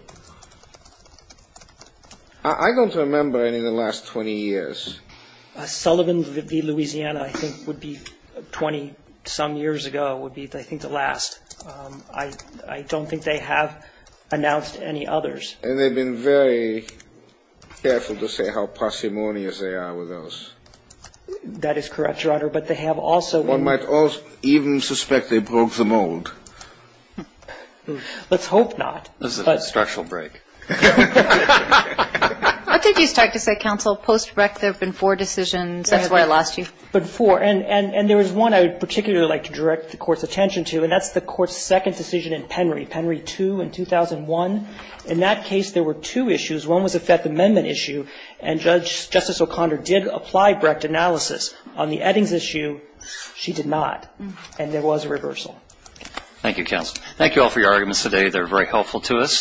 I don't remember any in the last 20 years. Sullivan v. Louisiana, I think, would be 20-some years ago, would be, I think, the last. I don't think they have announced any others. And they've been very careful to say how parsimonious they are with those. That is correct, Your Honor, but they have also... One might even suspect they broke the mold. Let's hope not. This is a structural break. I think you start to say, counsel, post-Brecht, there have been four decisions. And there is one I would particularly like to direct the court's attention to, and that's the court's second decision in Penry, Penry 2 in 2001. In that case, there were two issues. One was a Fifth Amendment issue, and Justice O'Connor did apply Brecht analysis on the Eddings issue. She did not. And there was a reversal. Thank you, counsel. Thank you all for your arguments today. They were very helpful to us.